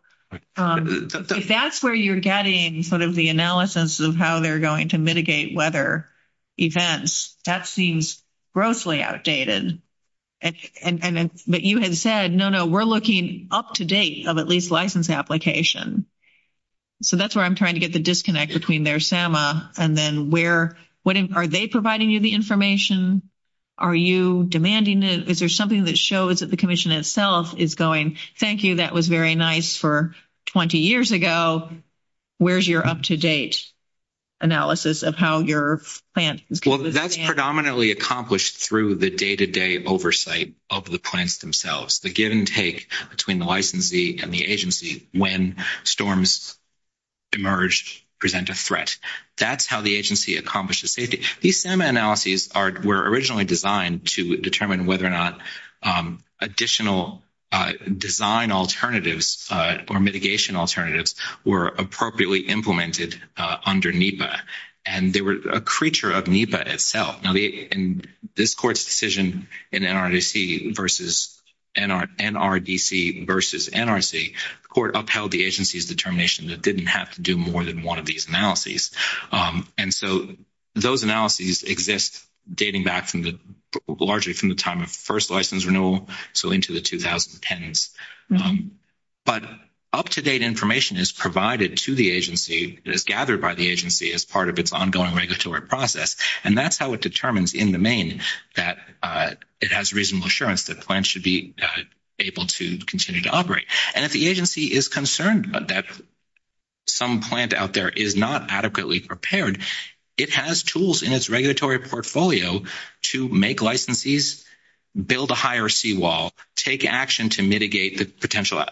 If that's where you're getting sort of the analysis of how they're going to mitigate weather events, that seems grossly outdated. But you had said, no, no, we're looking up to date of at least license application. So that's where I'm trying to get the disconnect between their SAMA and then where- Are they providing you the information? Are you demanding it? Is there something that shows that the commission itself is going, thank you, that was very nice for 20 years ago. Where's your up-to-date analysis of how your plans- Well, that's predominantly accomplished through the day-to-day oversight of the plans themselves. The give and take between the licensee and the agency when storms emerge, present a threat. That's how the agency accomplishes safety. These SAMA analyses were originally designed to determine whether or not additional design alternatives or mitigation alternatives were appropriately implemented under NEPA, and they were a creature of NEPA itself. In this court's decision in NRDC versus NRC, the court upheld the agency's determination that it didn't have to do more than one of these analyses. And so those analyses exist dating back largely from the time of the first license renewal, so into the 2010s. But up-to-date information is provided to the agency, is gathered by the agency as part of its ongoing regulatory process, and that's how it determines in the main that it has reasonable assurance that plans should be able to continue to operate. And if the agency is concerned that some plant out there is not adequately prepared, it has tools in its regulatory portfolio to make licensees build a higher seawall, take action to mitigate the potential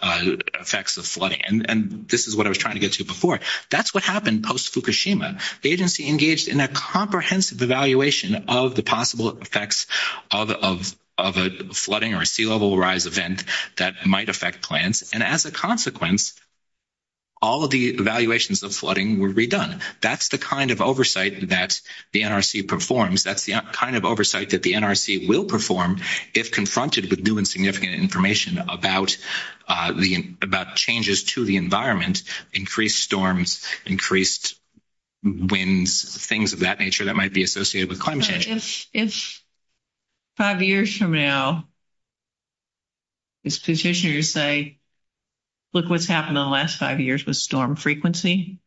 effects of flooding, and this is what I was trying to get to before. That's what happened post-Fukushima. The agency engaged in a comprehensive evaluation of the possible effects of a flooding or a sea-level rise event that might affect plants, and as a consequence, all of the evaluations of flooding were redone. That's the kind of oversight that the NRC performs. That's the kind of oversight that the NRC will perform if confronted with new and significant information about changes to the environment, increased storms, increased winds, things of that nature that might be associated with climate change. It's five years from now, as petitioners say, look what's happened in the last five years with storm frequency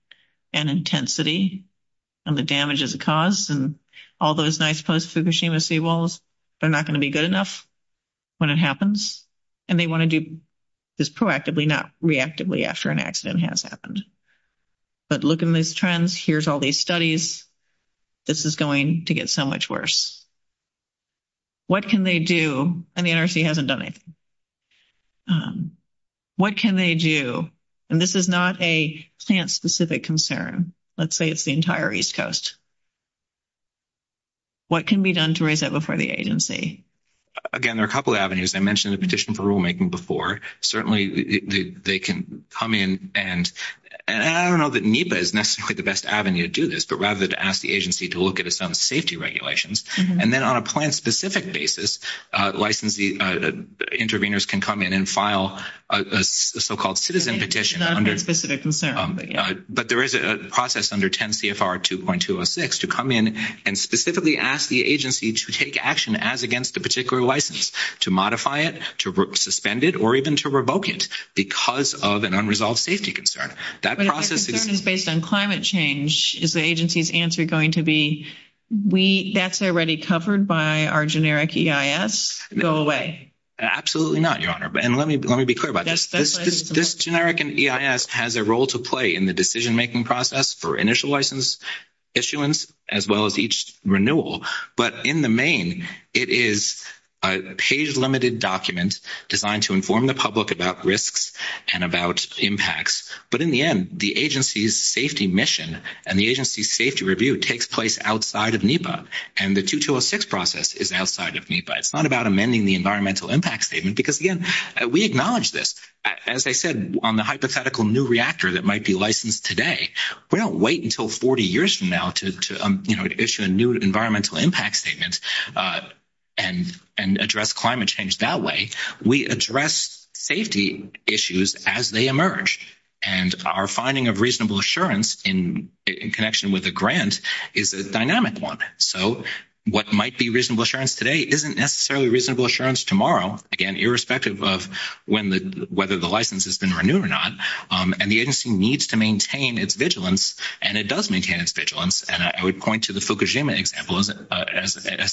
and intensity and the damages it caused and all those nice post-Fukushima seawalls. They're not going to be good enough when it happens, and they want to do this proactively, not reactively after an accident has happened. But look at these trends. Here's all these studies. This is going to get so much worse. What can they do? And the NRC hasn't done anything. What can they do? And this is not a stance-specific concern. Let's say it's the entire East Coast. What can be done to raise that before the agency? Again, there are a couple of avenues. I mentioned the petition for rulemaking before. Certainly, they can come in and I don't know that NEPA is necessarily the best avenue to do this, but rather to ask the agency to look at some safety regulations. And then on a plan-specific basis, licensee intervenors can come in and file a so-called citizen petition. It's not a specific concern. But there is a process under 10 CFR 2.206 to come in and specifically ask the agency to take action as against a particular license, to modify it, to suspend it, or even to revoke it because of an unresolved safety concern. That process is- But if the concern is based on climate change, is the agency's answer going to be, that's already covered by our generic EIS? Go away. Absolutely not, Your Honor. And let me be clear about this. This generic EIS has a role to play in the decision-making process for initial license issuance as well as each renewal. But in the main, it is a page-limited document designed to inform the public about risks and about impacts. But in the end, the agency's safety mission and the agency's safety review takes place outside of NEPA, and the 2.206 process is outside of NEPA. It's not about amending the environmental impact statement because, again, we acknowledge this. As I said, on the hypothetical new reactor that might be licensed today, we don't wait until 40 years from now to issue a new environmental impact statement and address climate change that way. We address safety issues as they emerge. And our finding of reasonable assurance in connection with the grant is a dynamic one. So what might be reasonable assurance today isn't necessarily reasonable assurance tomorrow, again, irrespective of whether the license has been renewed or not. And the agency needs to maintain its vigilance, and it does maintain its vigilance. And I would point to the Fukushima example as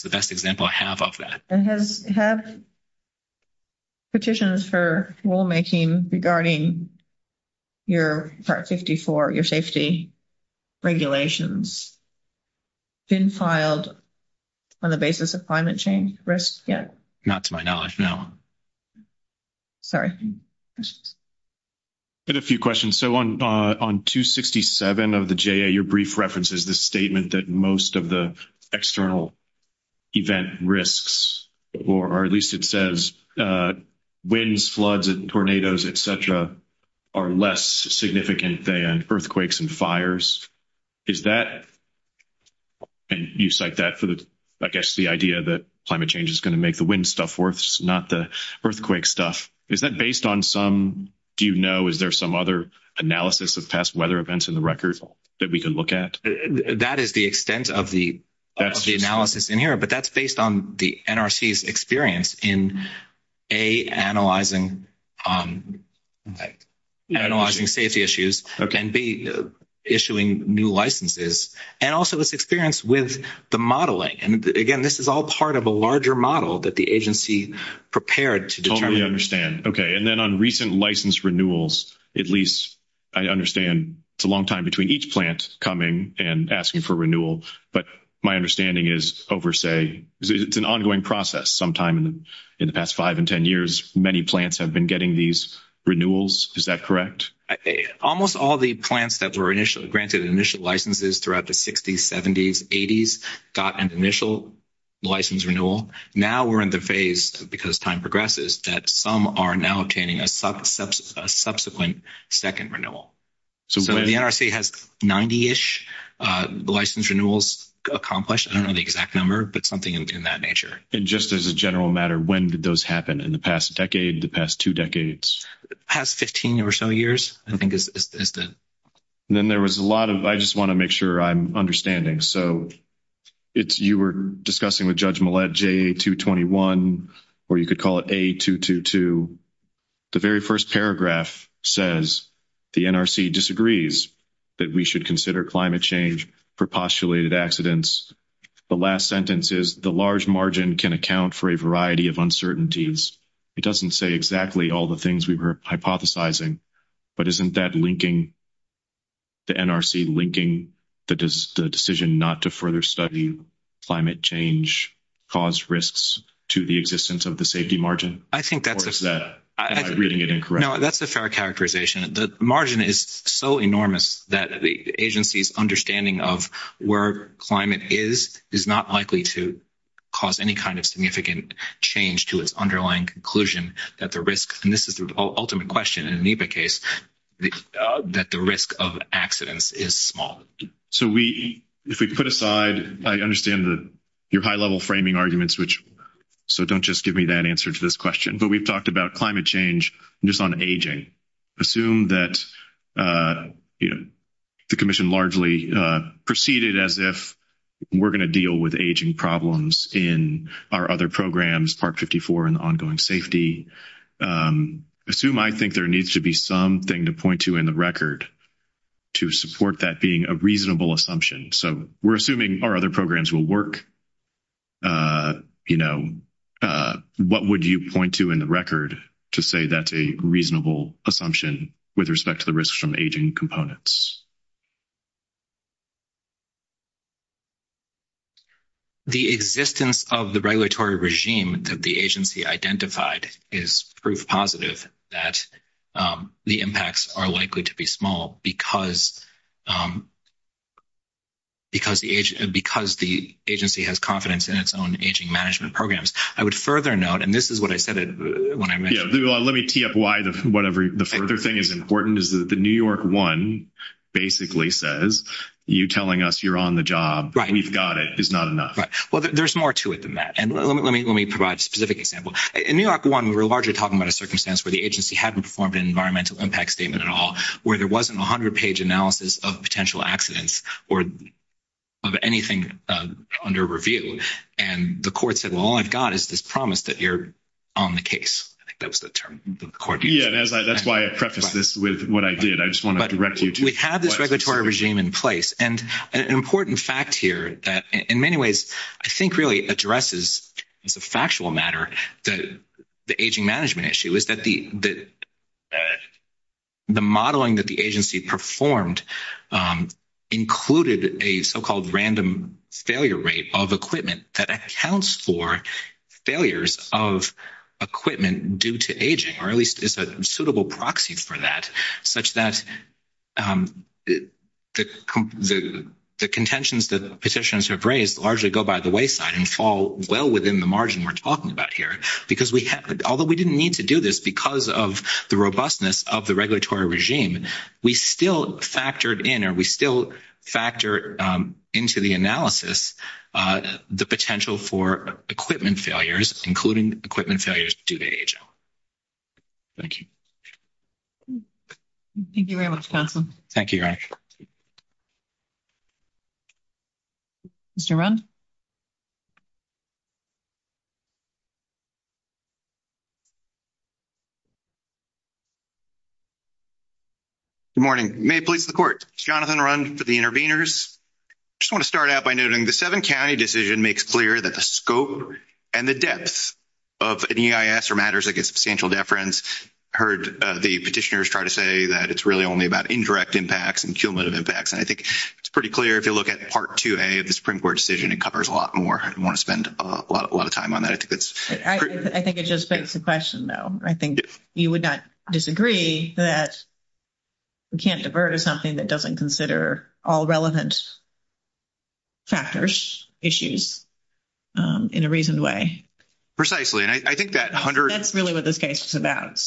the best example I have of that. Have petitions for rulemaking regarding your Part 54, your safety regulations, been filed on the basis of climate change risks yet? Not to my knowledge, no. Sorry. I had a few questions. So on 267 of the JA, your brief reference is the statement that most of the external event risks, or at least it says winds, floods, and tornadoes, et cetera, are less significant than earthquakes and fires. Is that, and you cite that for the, I guess, the idea that climate change is going to make the wind stuff worse, not the earthquake stuff. Is that based on some, do you know, is there some other analysis of past weather events in the record that we can look at? That is the extent of the analysis in here, but that's based on the NRC's experience in A, analyzing safety issues, and B, issuing new licenses, and also its experience with the modeling. And, again, this is all part of a larger model that the agency prepared to determine. I understand. Okay. And then on recent license renewals, at least, I understand it's a long time between each plant coming and asking for renewal, but my understanding is over, say, it's an ongoing process. Sometime in the past five and ten years, many plants have been getting these renewals. Is that correct? Almost all the plants that were initially granted initial licenses throughout the 60s, 70s, 80s, got an initial license renewal. Now we're in the phase, because time progresses, that some are now obtaining a subsequent second renewal. So the NRC has 90-ish license renewals accomplished. I don't know the exact number, but something in that nature. And just as a general matter, when did those happen? In the past decade, the past two decades? The past 15 or so years, I think. Then there was a lot of, I just want to make sure I'm understanding. So you were discussing with Judge Millett, J-221, or you could call it A-222. The very first paragraph says, the NRC disagrees that we should consider climate change for postulated accidents. The last sentence is, the large margin can account for a variety of uncertainties. It doesn't say exactly all the things we were hypothesizing, but isn't that linking the NRC, linking the decision not to further study climate change, cause risks to the existence of the safety margin? I think that's a fair characterization. The margin is so enormous that the agency's understanding of where climate is, is not likely to cause any kind of significant change to its underlying conclusion that the risk, and this is the ultimate question in the NEPA case, that the risk of accidents is small. So if we put aside, I understand your high-level framing arguments, so don't just give me that answer to this question. But we've talked about climate change and just on aging. Assume that the commission largely proceeded as if we're going to deal with aging problems in our other programs, Part 54 and the ongoing safety. Assume I think there needs to be something to point to in the record to support that being a reasonable assumption. So we're assuming our other programs will work. What would you point to in the record to say that's a reasonable assumption with respect to the risks from aging components? The existence of the regulatory regime that the agency identified is proof positive that the impacts are likely to be small because the agency has confidence in its own aging management programs. I would further note, and this is what I said when I met you. Let me TFY the further thing is important, is that the New York One basically says you telling us you're on the job, we've got it, is not enough. Well, there's more to it than that. And let me provide a specific example. In New York One, we were largely talking about a circumstance where the agency hadn't performed an environmental impact statement at all, where there wasn't a 100-page analysis of potential accidents or of anything under review. And the court said, well, all I've got is this promise that you're on the case. I think that was the term that the court used. Yeah, that's why I prefaced this with what I did. I just want to directly… We have this regulatory regime in place. And an important fact here that in many ways I think really addresses, as a factual matter, the aging management issue is that the modeling that the agency performed included a so-called random failure rate of equipment that accounts for failures of equipment due to aging or at least is a suitable proxy for that such that the contentions that the petitioners have raised largely go by the wayside and fall well within the margin we're talking about here. Because although we didn't need to do this because of the robustness of the regulatory regime, we still factored in or we still factored into the analysis the potential for equipment failures, including equipment failures due to aging. Thank you. Thank you very much, Jonathan. Thank you. Mr. Rund? Good morning. May it please the court. Jonathan Rund for the interveners. I just want to start out by noting the seven-county decision makes clear that the scope and the depth of EIS or Matters Against Substantial Deference heard the petitioners try to say that it's really only about indirect impacts and cumulative impacts. And I think it's pretty clear if you look at Part 2A of the Supreme Court decision, it covers a lot more. I don't want to spend a lot of time on that. I think it just begs the question, though. I think you would not disagree that we can't divert to something that doesn't consider all relevant factors, issues, in a reasoned way. Precisely. And I think that 100. That's really what this case is about.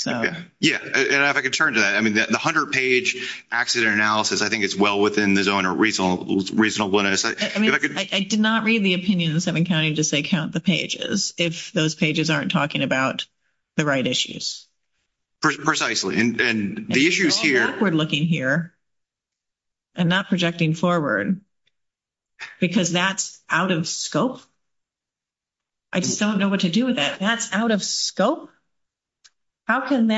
Yeah. And if I could turn to that. I mean, the 100-page accident analysis, I think it's well within the zone of reasonableness. I mean, I did not read the opinion of the seven counties as they count the pages if those pages aren't talking about the right issues. Precisely. It's awkward looking here and not projecting forward because that's out of scope. I just don't know what to do with that. That's out of scope? How can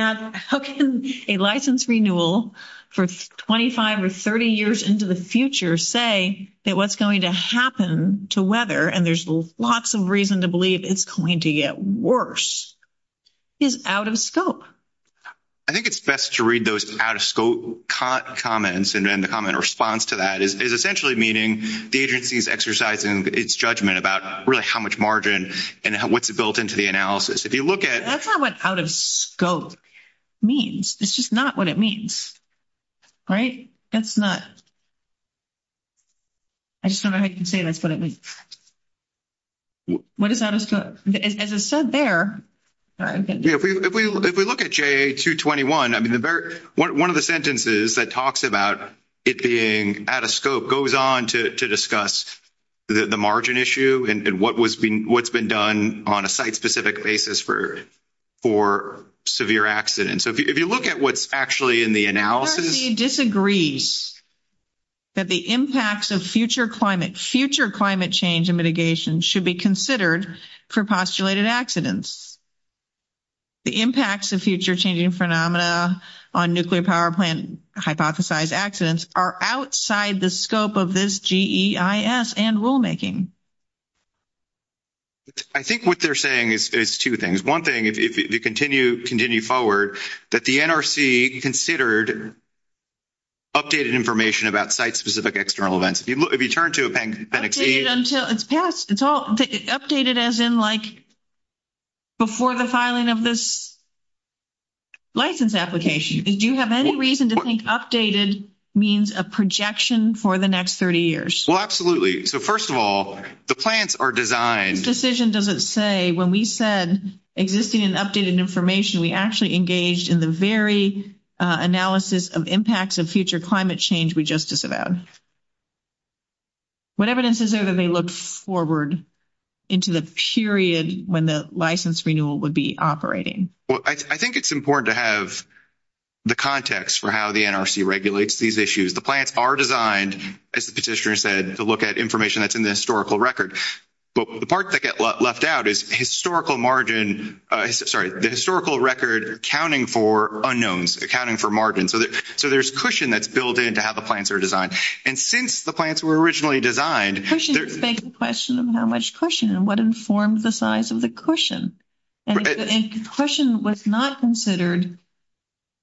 a license renewal for 25 or 30 years into the future say that what's going to happen to weather, and there's lots of reason to believe it's going to get worse, is out of scope? I think it's best to read those out of scope comments and then the comment response to that is essentially meaning the agency is exercising its judgment about really how much margin and what's built into the analysis. If you look at... That's not what out of scope means. It's just not what it means. Right? That's not... I just don't know how you can say this, but it means... What is out of scope? As I said there... If we look at JA-221, one of the sentences that talks about it being out of scope goes on to discuss the margin issue and what's been done on a site-specific basis for severe accidents. If you look at what's actually in the analysis... The agency disagrees that the impacts of future climate change and mitigation should be considered for postulated accidents. The impacts of future changing phenomena on nuclear power plant hypothesized accidents are outside the scope of this GEIS and rulemaking. I think what they're saying is two things. One thing, if you continue forward, that the NRC considered updated information about site-specific external events. If you turn to appendix E... It's past. It's all... Updated as in, like, before the filing of this license application. Do you have any reason to think updated means a projection for the next 30 years? Well, absolutely. So, first of all, the plans are designed... The decision doesn't say when we said existing and updated information, we actually engaged in the very analysis of impacts of future climate change we just discussed. What evidence is there that they looked forward into the period when the license renewal would be operating? Well, I think it's important to have the context for how the NRC regulates these issues. The plans are designed, as the petitioner said, to look at information that's in the historical record. But the part that got left out is historical margin... Sorry, the historical record accounting for unknowns, accounting for margins. So there's cushion that's built in to how the plans were designed. And since the plans were originally designed... Cushion begs the question of how much cushion and what informs the size of the cushion. And if the cushion was not considered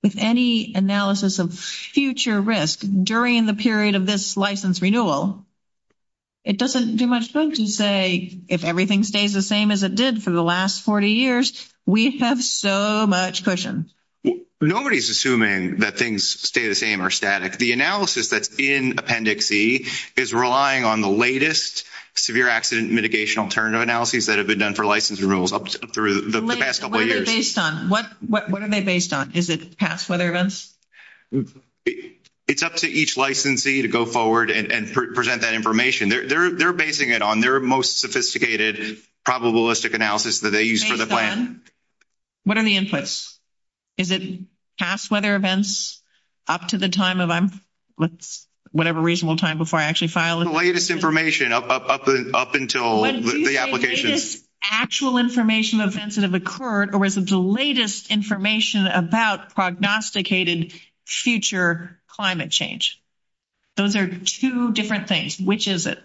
with any analysis of future risk during the period of this license renewal, it doesn't do much good to say, if everything stays the same as it did for the last 40 years, we have so much cushion. Nobody's assuming that things stay the same or static. The analysis that's in Appendix E is relying on the latest severe accident mitigation alternative analyses that have been done for license renewals up through the past couple of years. What are they based on? Is it past weather events? It's up to each licensee to go forward and present that information. They're basing it on their most sophisticated probabilistic analysis that they used for the plan. What are the inputs? Is it past weather events up to the time of whatever reasonable time before I actually file it? The latest information up until the application. Is it actual information of events that have occurred, or is it the latest information about prognosticated future climate change? Those are two different things. Which is it?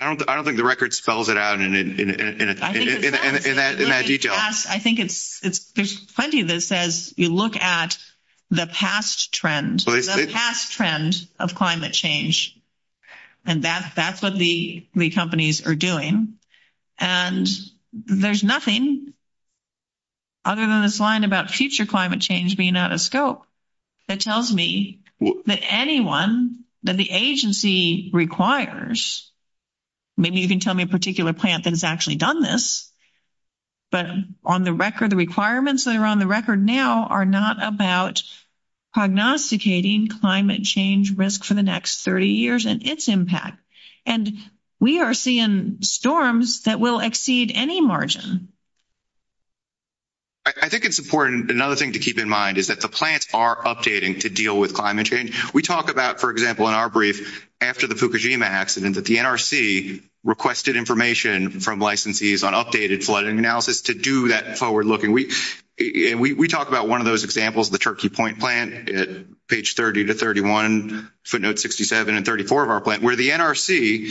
I don't think the record spells it out in that detail. I think there's plenty that says you look at the past trend, the past trend of climate change. And that's what the companies are doing. And there's nothing other than this line about future climate change being out of scope that tells me that anyone, that the agency requires. Maybe you can tell me a particular plant that has actually done this. But on the record, the requirements that are on the record now are not about prognosticating climate change risk for the next 30 years and its impact. And we are seeing storms that will exceed any margin. I think it's important, another thing to keep in mind, is that the plants are updating to deal with climate change. We talk about, for example, in our brief, after the Fukushima accident, that the NRC requested information from licensees on updated flooding analysis to do that forward looking. We talk about one of those examples, the Cherokee Point plant, page 30 to 31, footnote 67 and 34 of our plant, where the NRC,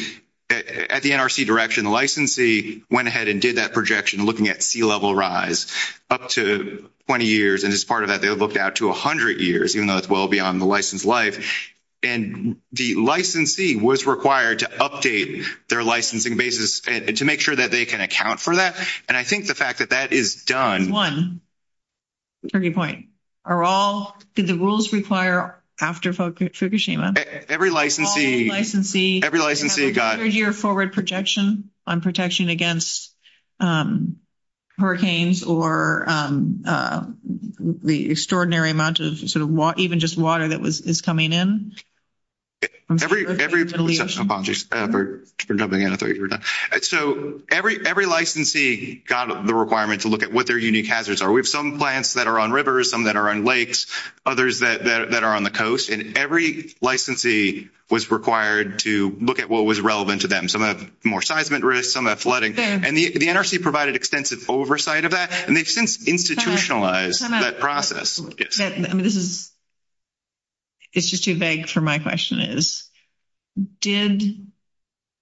at the NRC direction, the licensee went ahead and did that projection looking at sea level rise up to 20 years. And as part of that, they looked out to 100 years, even though it's well beyond the license life. And the licensee was required to update their licensing basis to make sure that they can account for that. And I think the fact that that is done. One, Cherokee Point, are all, do the rules require after Fukushima? Every licensee. Every licensee. Every licensee got. A three-year forward projection on protection against hurricanes or the extraordinary amount of sort of even just water that is coming in? Every. I'm sorry. You're jumping in. So every licensee got the requirement to look at what their unique hazards are. We have some plants that are on rivers, some that are on lakes, others that are on the coast. And every licensee was required to look at what was relevant to them, some of the more seismic risks, some of the flooding. And the NRC provided extensive oversight of that, and they've since institutionalized that process. It's just too vague for my question is, did,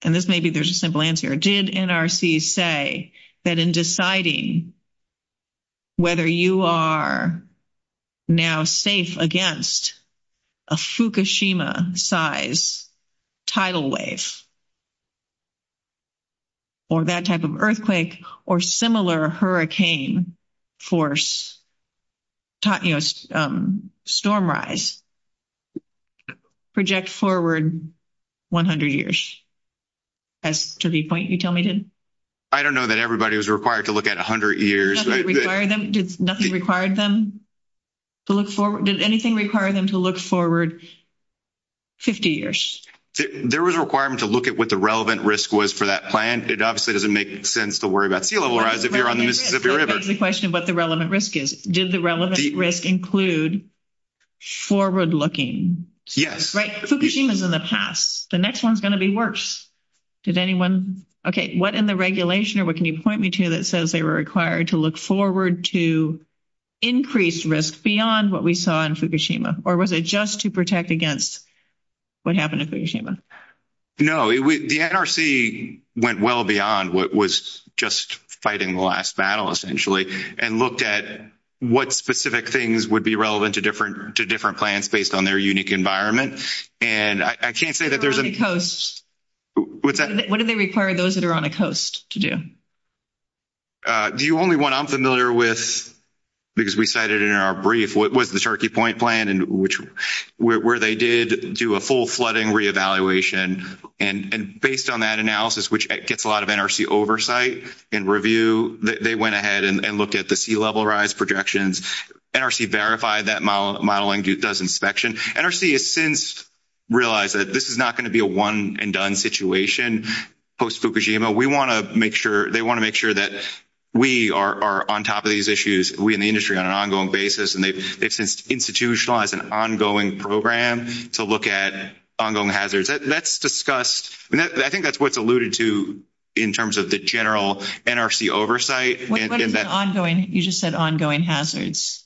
and this may be their simple answer, did NRC say that in deciding whether you are now safe against a Fukushima-sized tidal wave or that type of earthquake or similar hurricane force, storm rise, project forward 100 years? That's to the point you tell me to? I don't know that everybody was required to look at 100 years. Did nothing require them to look forward? Did anything require them to look forward 50 years? There was a requirement to look at what the relevant risk was for that plant. It obviously doesn't make sense to worry about sea level rise if you're on this That's the question of what the relevant risk is. Did the relevant risk include forward looking? Yes. Fukushima's in the past. The next one's going to be worse. Did anyone, okay, what in the regulation or what can you point me to that says they were required to look forward to increased risk beyond what we saw in Fukushima? Or was it just to protect against what happened in Fukushima? No. The NRC went well beyond what was just fighting the last battle essentially and looked at what specific things would be relevant to different plants based on their unique environment. And I can't say that there's a- What do they require those that are on a coast to do? The only one I'm familiar with, because we cited it in our brief, was the Cherokee Point plant where they did do a full flooding re-evaluation. And based on that analysis, which gets a lot of NRC oversight and review, they went ahead and looked at the sea level rise projections. NRC verified that modeling does inspection. NRC has since realized that this is not going to be a one and done situation post-Fukushima. We want to make sure- They want to make sure that we are on top of these issues, we in the industry, on an ongoing basis. And they institutionalized an ongoing program to look at ongoing hazards. That's discussed- I think that's what's alluded to in terms of the general NRC oversight. What is an ongoing- You just said ongoing hazards.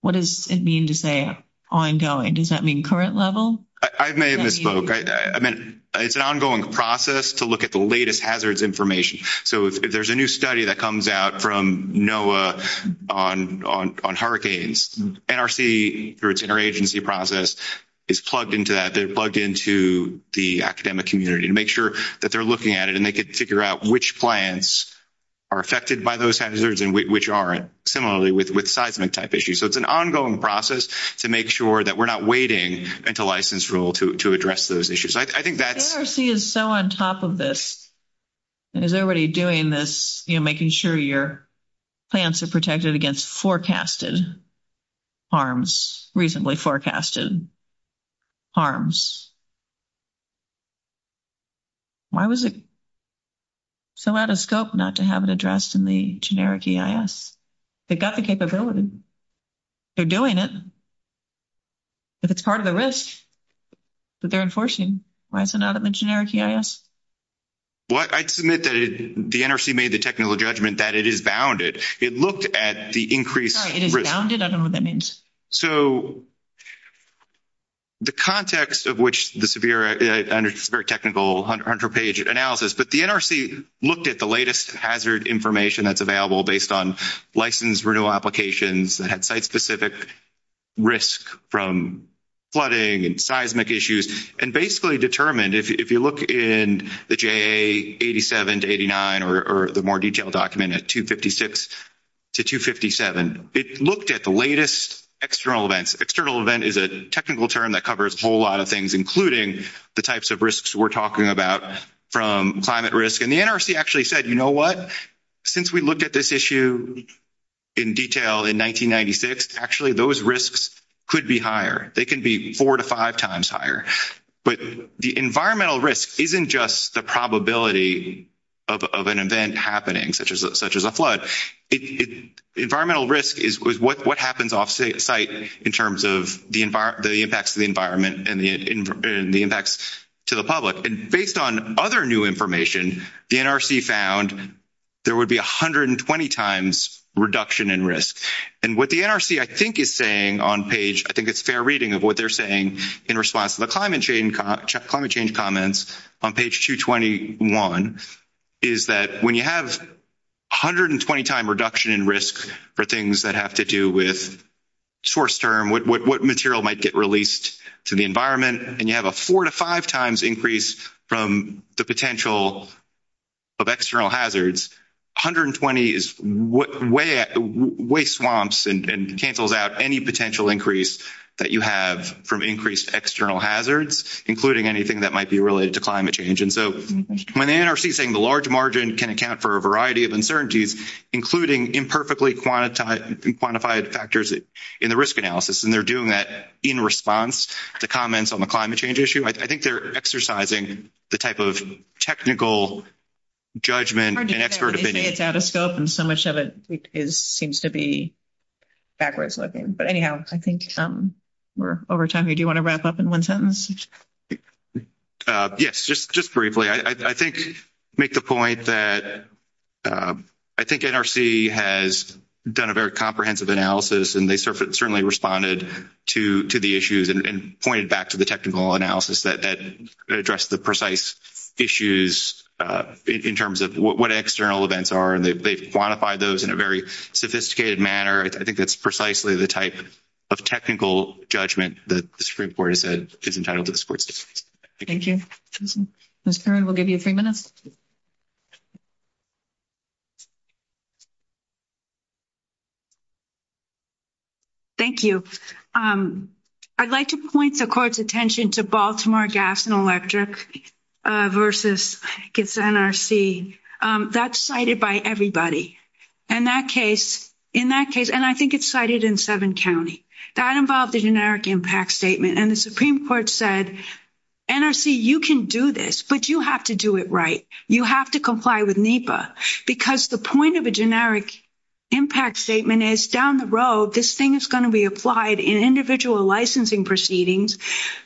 What does it mean to say ongoing? Does that mean current level? I may have misspoke. I meant it's an ongoing process to look at the latest hazards information. There's a new study that comes out from NOAA on hurricanes. NRC, through its interagency process, is plugged into that. They're plugged into the academic community to make sure that they're looking at it and they can figure out which plants are affected by those hazards and which aren't. Similarly with seismic type issues. So it's an ongoing process to make sure that we're not waiting until license rule to address those issues. I think that- NRC is so on top of this and is already doing this, making sure your plants are protected against forecasted harms, recently forecasted harms. Why was it so out of scope not to have it addressed in the generic EIS? They've got the capability. They're doing it. If it's part of the risk that they're enforcing, why is it not in the generic EIS? I'd submit that the NRC made the technical judgment that it is bounded. It looked at the increased- Sorry, it is bounded? I don't know what that means. So the context of which the severe technical 100-page analysis, but the NRC looked at the latest hazard information that's available based on flooding and seismic issues and basically determined, if you look in the JA 87 to 89 or the more detailed document at 256 to 257, it looked at the latest external events. External event is a technical term that covers a whole lot of things, including the types of risks we're talking about from climate risk. And the NRC actually said, you know what? Since we looked at this issue in detail in 1996, actually those risks could be higher. They can be four to five times higher. But the environmental risk isn't just the probability of an event happening, such as a flood. Environmental risk is what happens off-site in terms of the impacts to the environment and the impacts to the public. And based on other new information, the NRC found there would be 120 times reduction in risk. And what the NRC, I think, is saying on page, I think it's fair reading of what they're saying in response to the climate change comments on page 221, is that when you have 120 times reduction in risk for things that have to do with source term, what material might get released to the environment, and you have a four to five times increase from the potential of external hazards. It's ridiculous that the NRC is looking at swamps and cancels out any potential increase that you have from increased external hazards, including anything that might be related to climate change. And so when the NRC is saying the large margin can account for a variety of incertainties, including imperfectly quantified factors in the risk analysis. And they're doing that in response to comments on the climate change issue. I think they're exercising the type of technical judgment and expert opinion. And so much of it seems to be backwards looking. But anyhow, I think we're over time. Do you want to wrap up in one sentence? Yes, just briefly. I think make the point that I think NRC has done a very comprehensive analysis and they certainly responded to the issues and pointed back to the technical analysis that addressed the precise issues in terms of what external events are and they quantify those in a very sophisticated manner. I think that's precisely the type of technical judgment that the Supreme Court is entitled to. Thank you. Ms. Perrin, we'll give you a few minutes. Thank you. I'd like to point the court's attention to Baltimore Gas and Electric versus NRC. That's cited by everybody. In that case, and I think it's cited in seven counties, that involved the generic impact statement. And the Supreme Court said, NRC, you can do this, but you have to do it right. You have to comply with NEPA because the point of a generic impact statement is down the road, this thing is going to be applied in individual licensing proceedings.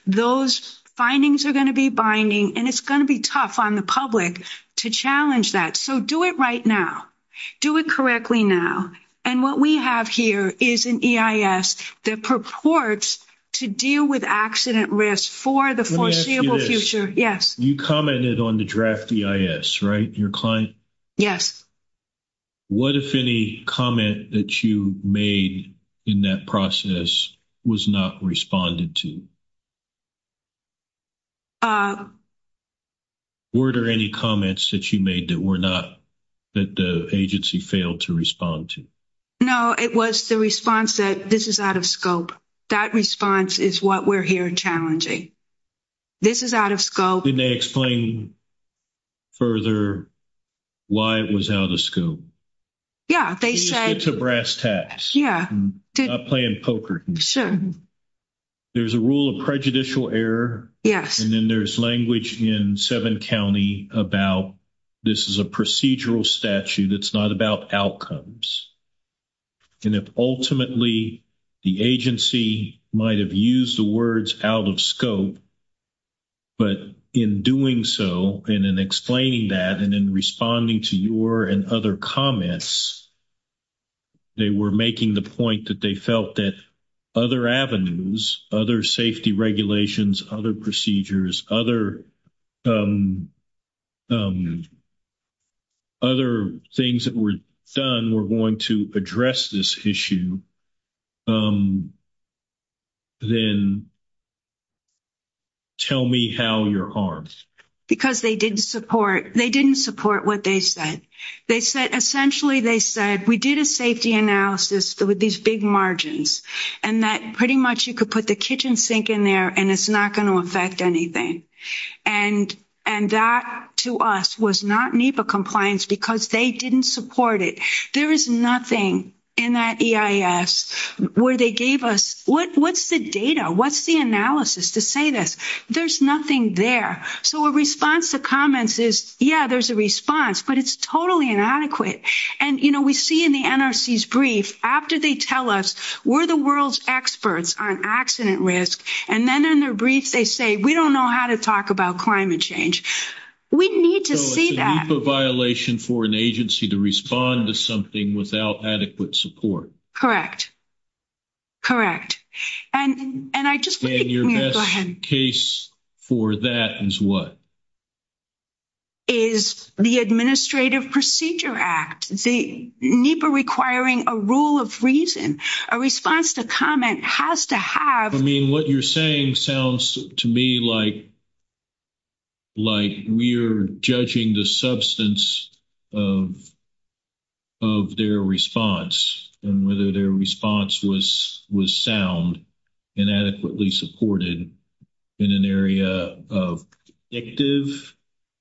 Those findings are going to be binding and it's going to be tough on the public to challenge that. So do it right now. Do it correctly now. And what we have here is an EIS that purports to deal with accident risk for the foreseeable future. Yes. You commented on the draft EIS, right? Your client? Yes. What if any comment that you made in that process was not responded to? Were there any comments that you made that were not, that the agency failed to respond to? No, it was the response that this is out of scope. That response is what we're here challenging. This is out of scope. Can they explain further why it was out of scope? Yeah, they said. It's a brass tacks. Yeah. Not playing poker. Sure. There's a rule of prejudicial error. Yes. And then there's language in seven county about this is a procedural statute that's not about outcomes. And if ultimately the agency might have used the words out of scope, but in doing so, and in explaining that, and in responding to your and other comments, they were making the point that they felt that other avenues, other safety regulations, other procedures, other things that were done were going to address this issue. Then tell me how your arms. Because they didn't support. They didn't support what they said. They said, essentially, they said, we did a safety analysis with these big margins and that pretty much you could put the kitchen sink in there and it's not going to affect anything. And that to us was not NEPA compliance because they didn't support it. There is nothing in that EIS where they gave us, what's the data? What's the analysis to say this? There's nothing there. So a response to comments is, yeah, there's a response, but it's totally inadequate. And, you know, we see in the NRC's brief after they tell us, we're the world's experts on accident risk. And then in their brief, they say, we don't know how to talk about climate change. We need to see that. NEPA violation for an agency to respond to something without adequate support. Correct. And I just think. Case for that is what? Is the administrative procedure act, the NEPA requiring a rule of reason a response to comment has to have. I mean, what you're saying sounds to me like. Like we're judging the substance of their response and whether their response was sound and adequately supported in an area of active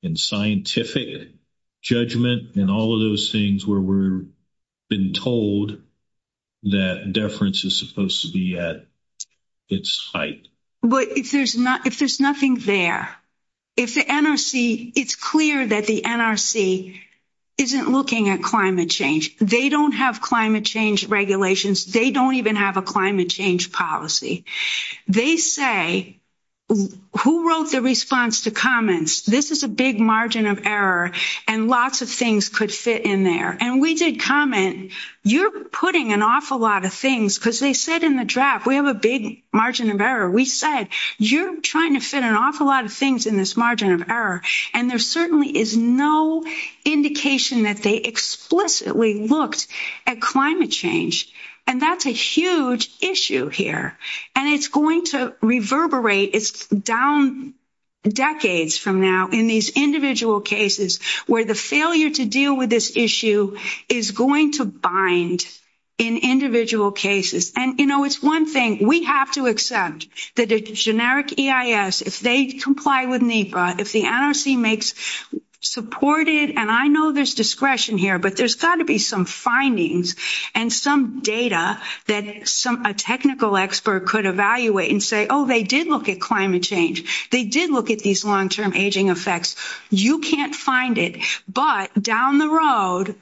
and scientific judgment and all of those things where we're been told that deference is supposed to be at its height. But if there's not, if there's nothing there, if the NRC, it's clear that the NRC isn't looking at climate change, they don't have climate change regulations. They don't even have a climate change policy. They say who wrote the response to comments. This is a big margin of error and lots of things could fit in there. And we did comment. You're putting an awful lot of things because they said in the draft, we have a big margin of error. We said, you're trying to fit an awful lot of things in this margin of And there certainly is no indication that they explicitly looked at climate change. And that's a huge issue here. And it's going to reverberate. It's down decades from now in these individual cases where the failure to deal with this issue is going to bind in individual cases. And, you know, it's one thing we have to accept that the generic EIS, if they comply with NEPA, if the NRC makes supported, and I know there's discretion here, but there's got to be some findings and some data that some, a technical expert could evaluate and say, oh, they did look at climate change. They did look at these long-term aging effects. You can't find it, but down the road,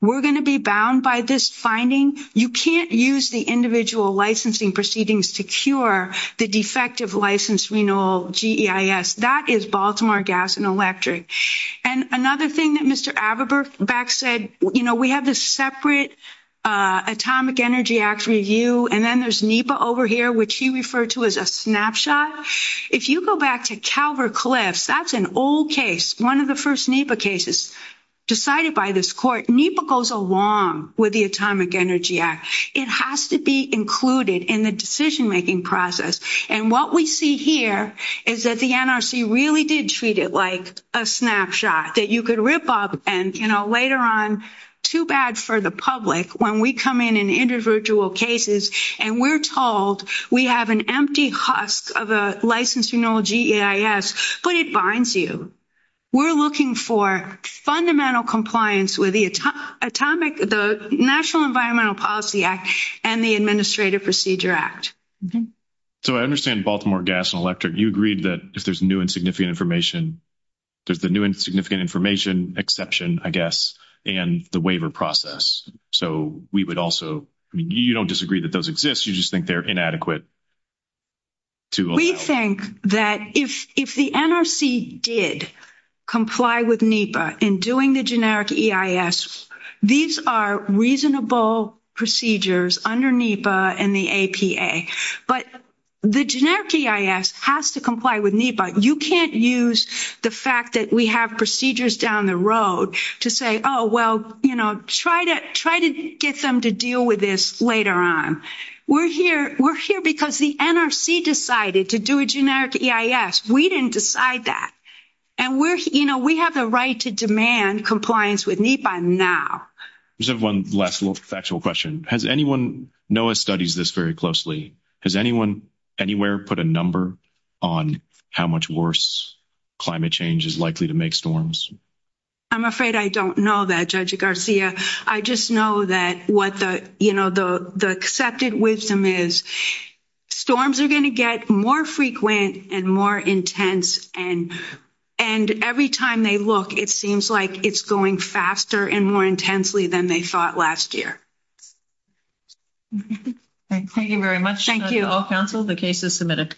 we're going to be bound by this finding. You can't use the individual licensing proceedings to cure the defective license renewal, GEIS. That is Baltimore Gas and Electric. And another thing that Mr. Aberbeck said, you know, we have this separate Atomic Energy Act review. And then there's NEPA over here, which he referred to as a snapshot. If you go back to Calvert-Cliffs, that's an old case. One of the first NEPA cases decided by this court, NEPA goes along with the Atomic Energy Act. It has to be included in the decision-making process. And what we see here is that the NRC really did treat it like a snapshot that you could rip up and, you know, later on too bad for the public when we come in and individual cases, and we're told we have an empty husk of a license renewal GEIS, but it binds you. We're looking for fundamental compliance with the National Environmental Policy Act and the Administrative Procedure Act. So I understand Baltimore Gas and Electric, you agreed that if there's new and significant information, there's the new and significant information exception, I guess, and the waiver process. So we would also, you don't disagree that those exist, you just think they're inadequate. We think that if the NRC did comply with NEPA in doing the generic EIS, these are reasonable procedures under NEPA and the APA, but the generic EIS has to comply with NEPA. You can't use the fact that we have procedures down the road to say, oh, well, you know, try to get them to deal with this later on. We're here because the NRC decided to do a generic EIS. We didn't decide that. And we have the right to demand compliance with NEPA now. Just one last little factual question. Has anyone, NOAA studies this very closely, has anyone anywhere put a number on how much worse climate change is likely to make storms? I'm afraid I don't know that, Judge Garcia. I just know that what the, you know, the accepted wisdom is, storms are going to get more frequent and more intense. And every time they look, it seems like it's going faster and more intensely than they thought last year. Thank you very much. Thank you. All council, the case is submitted.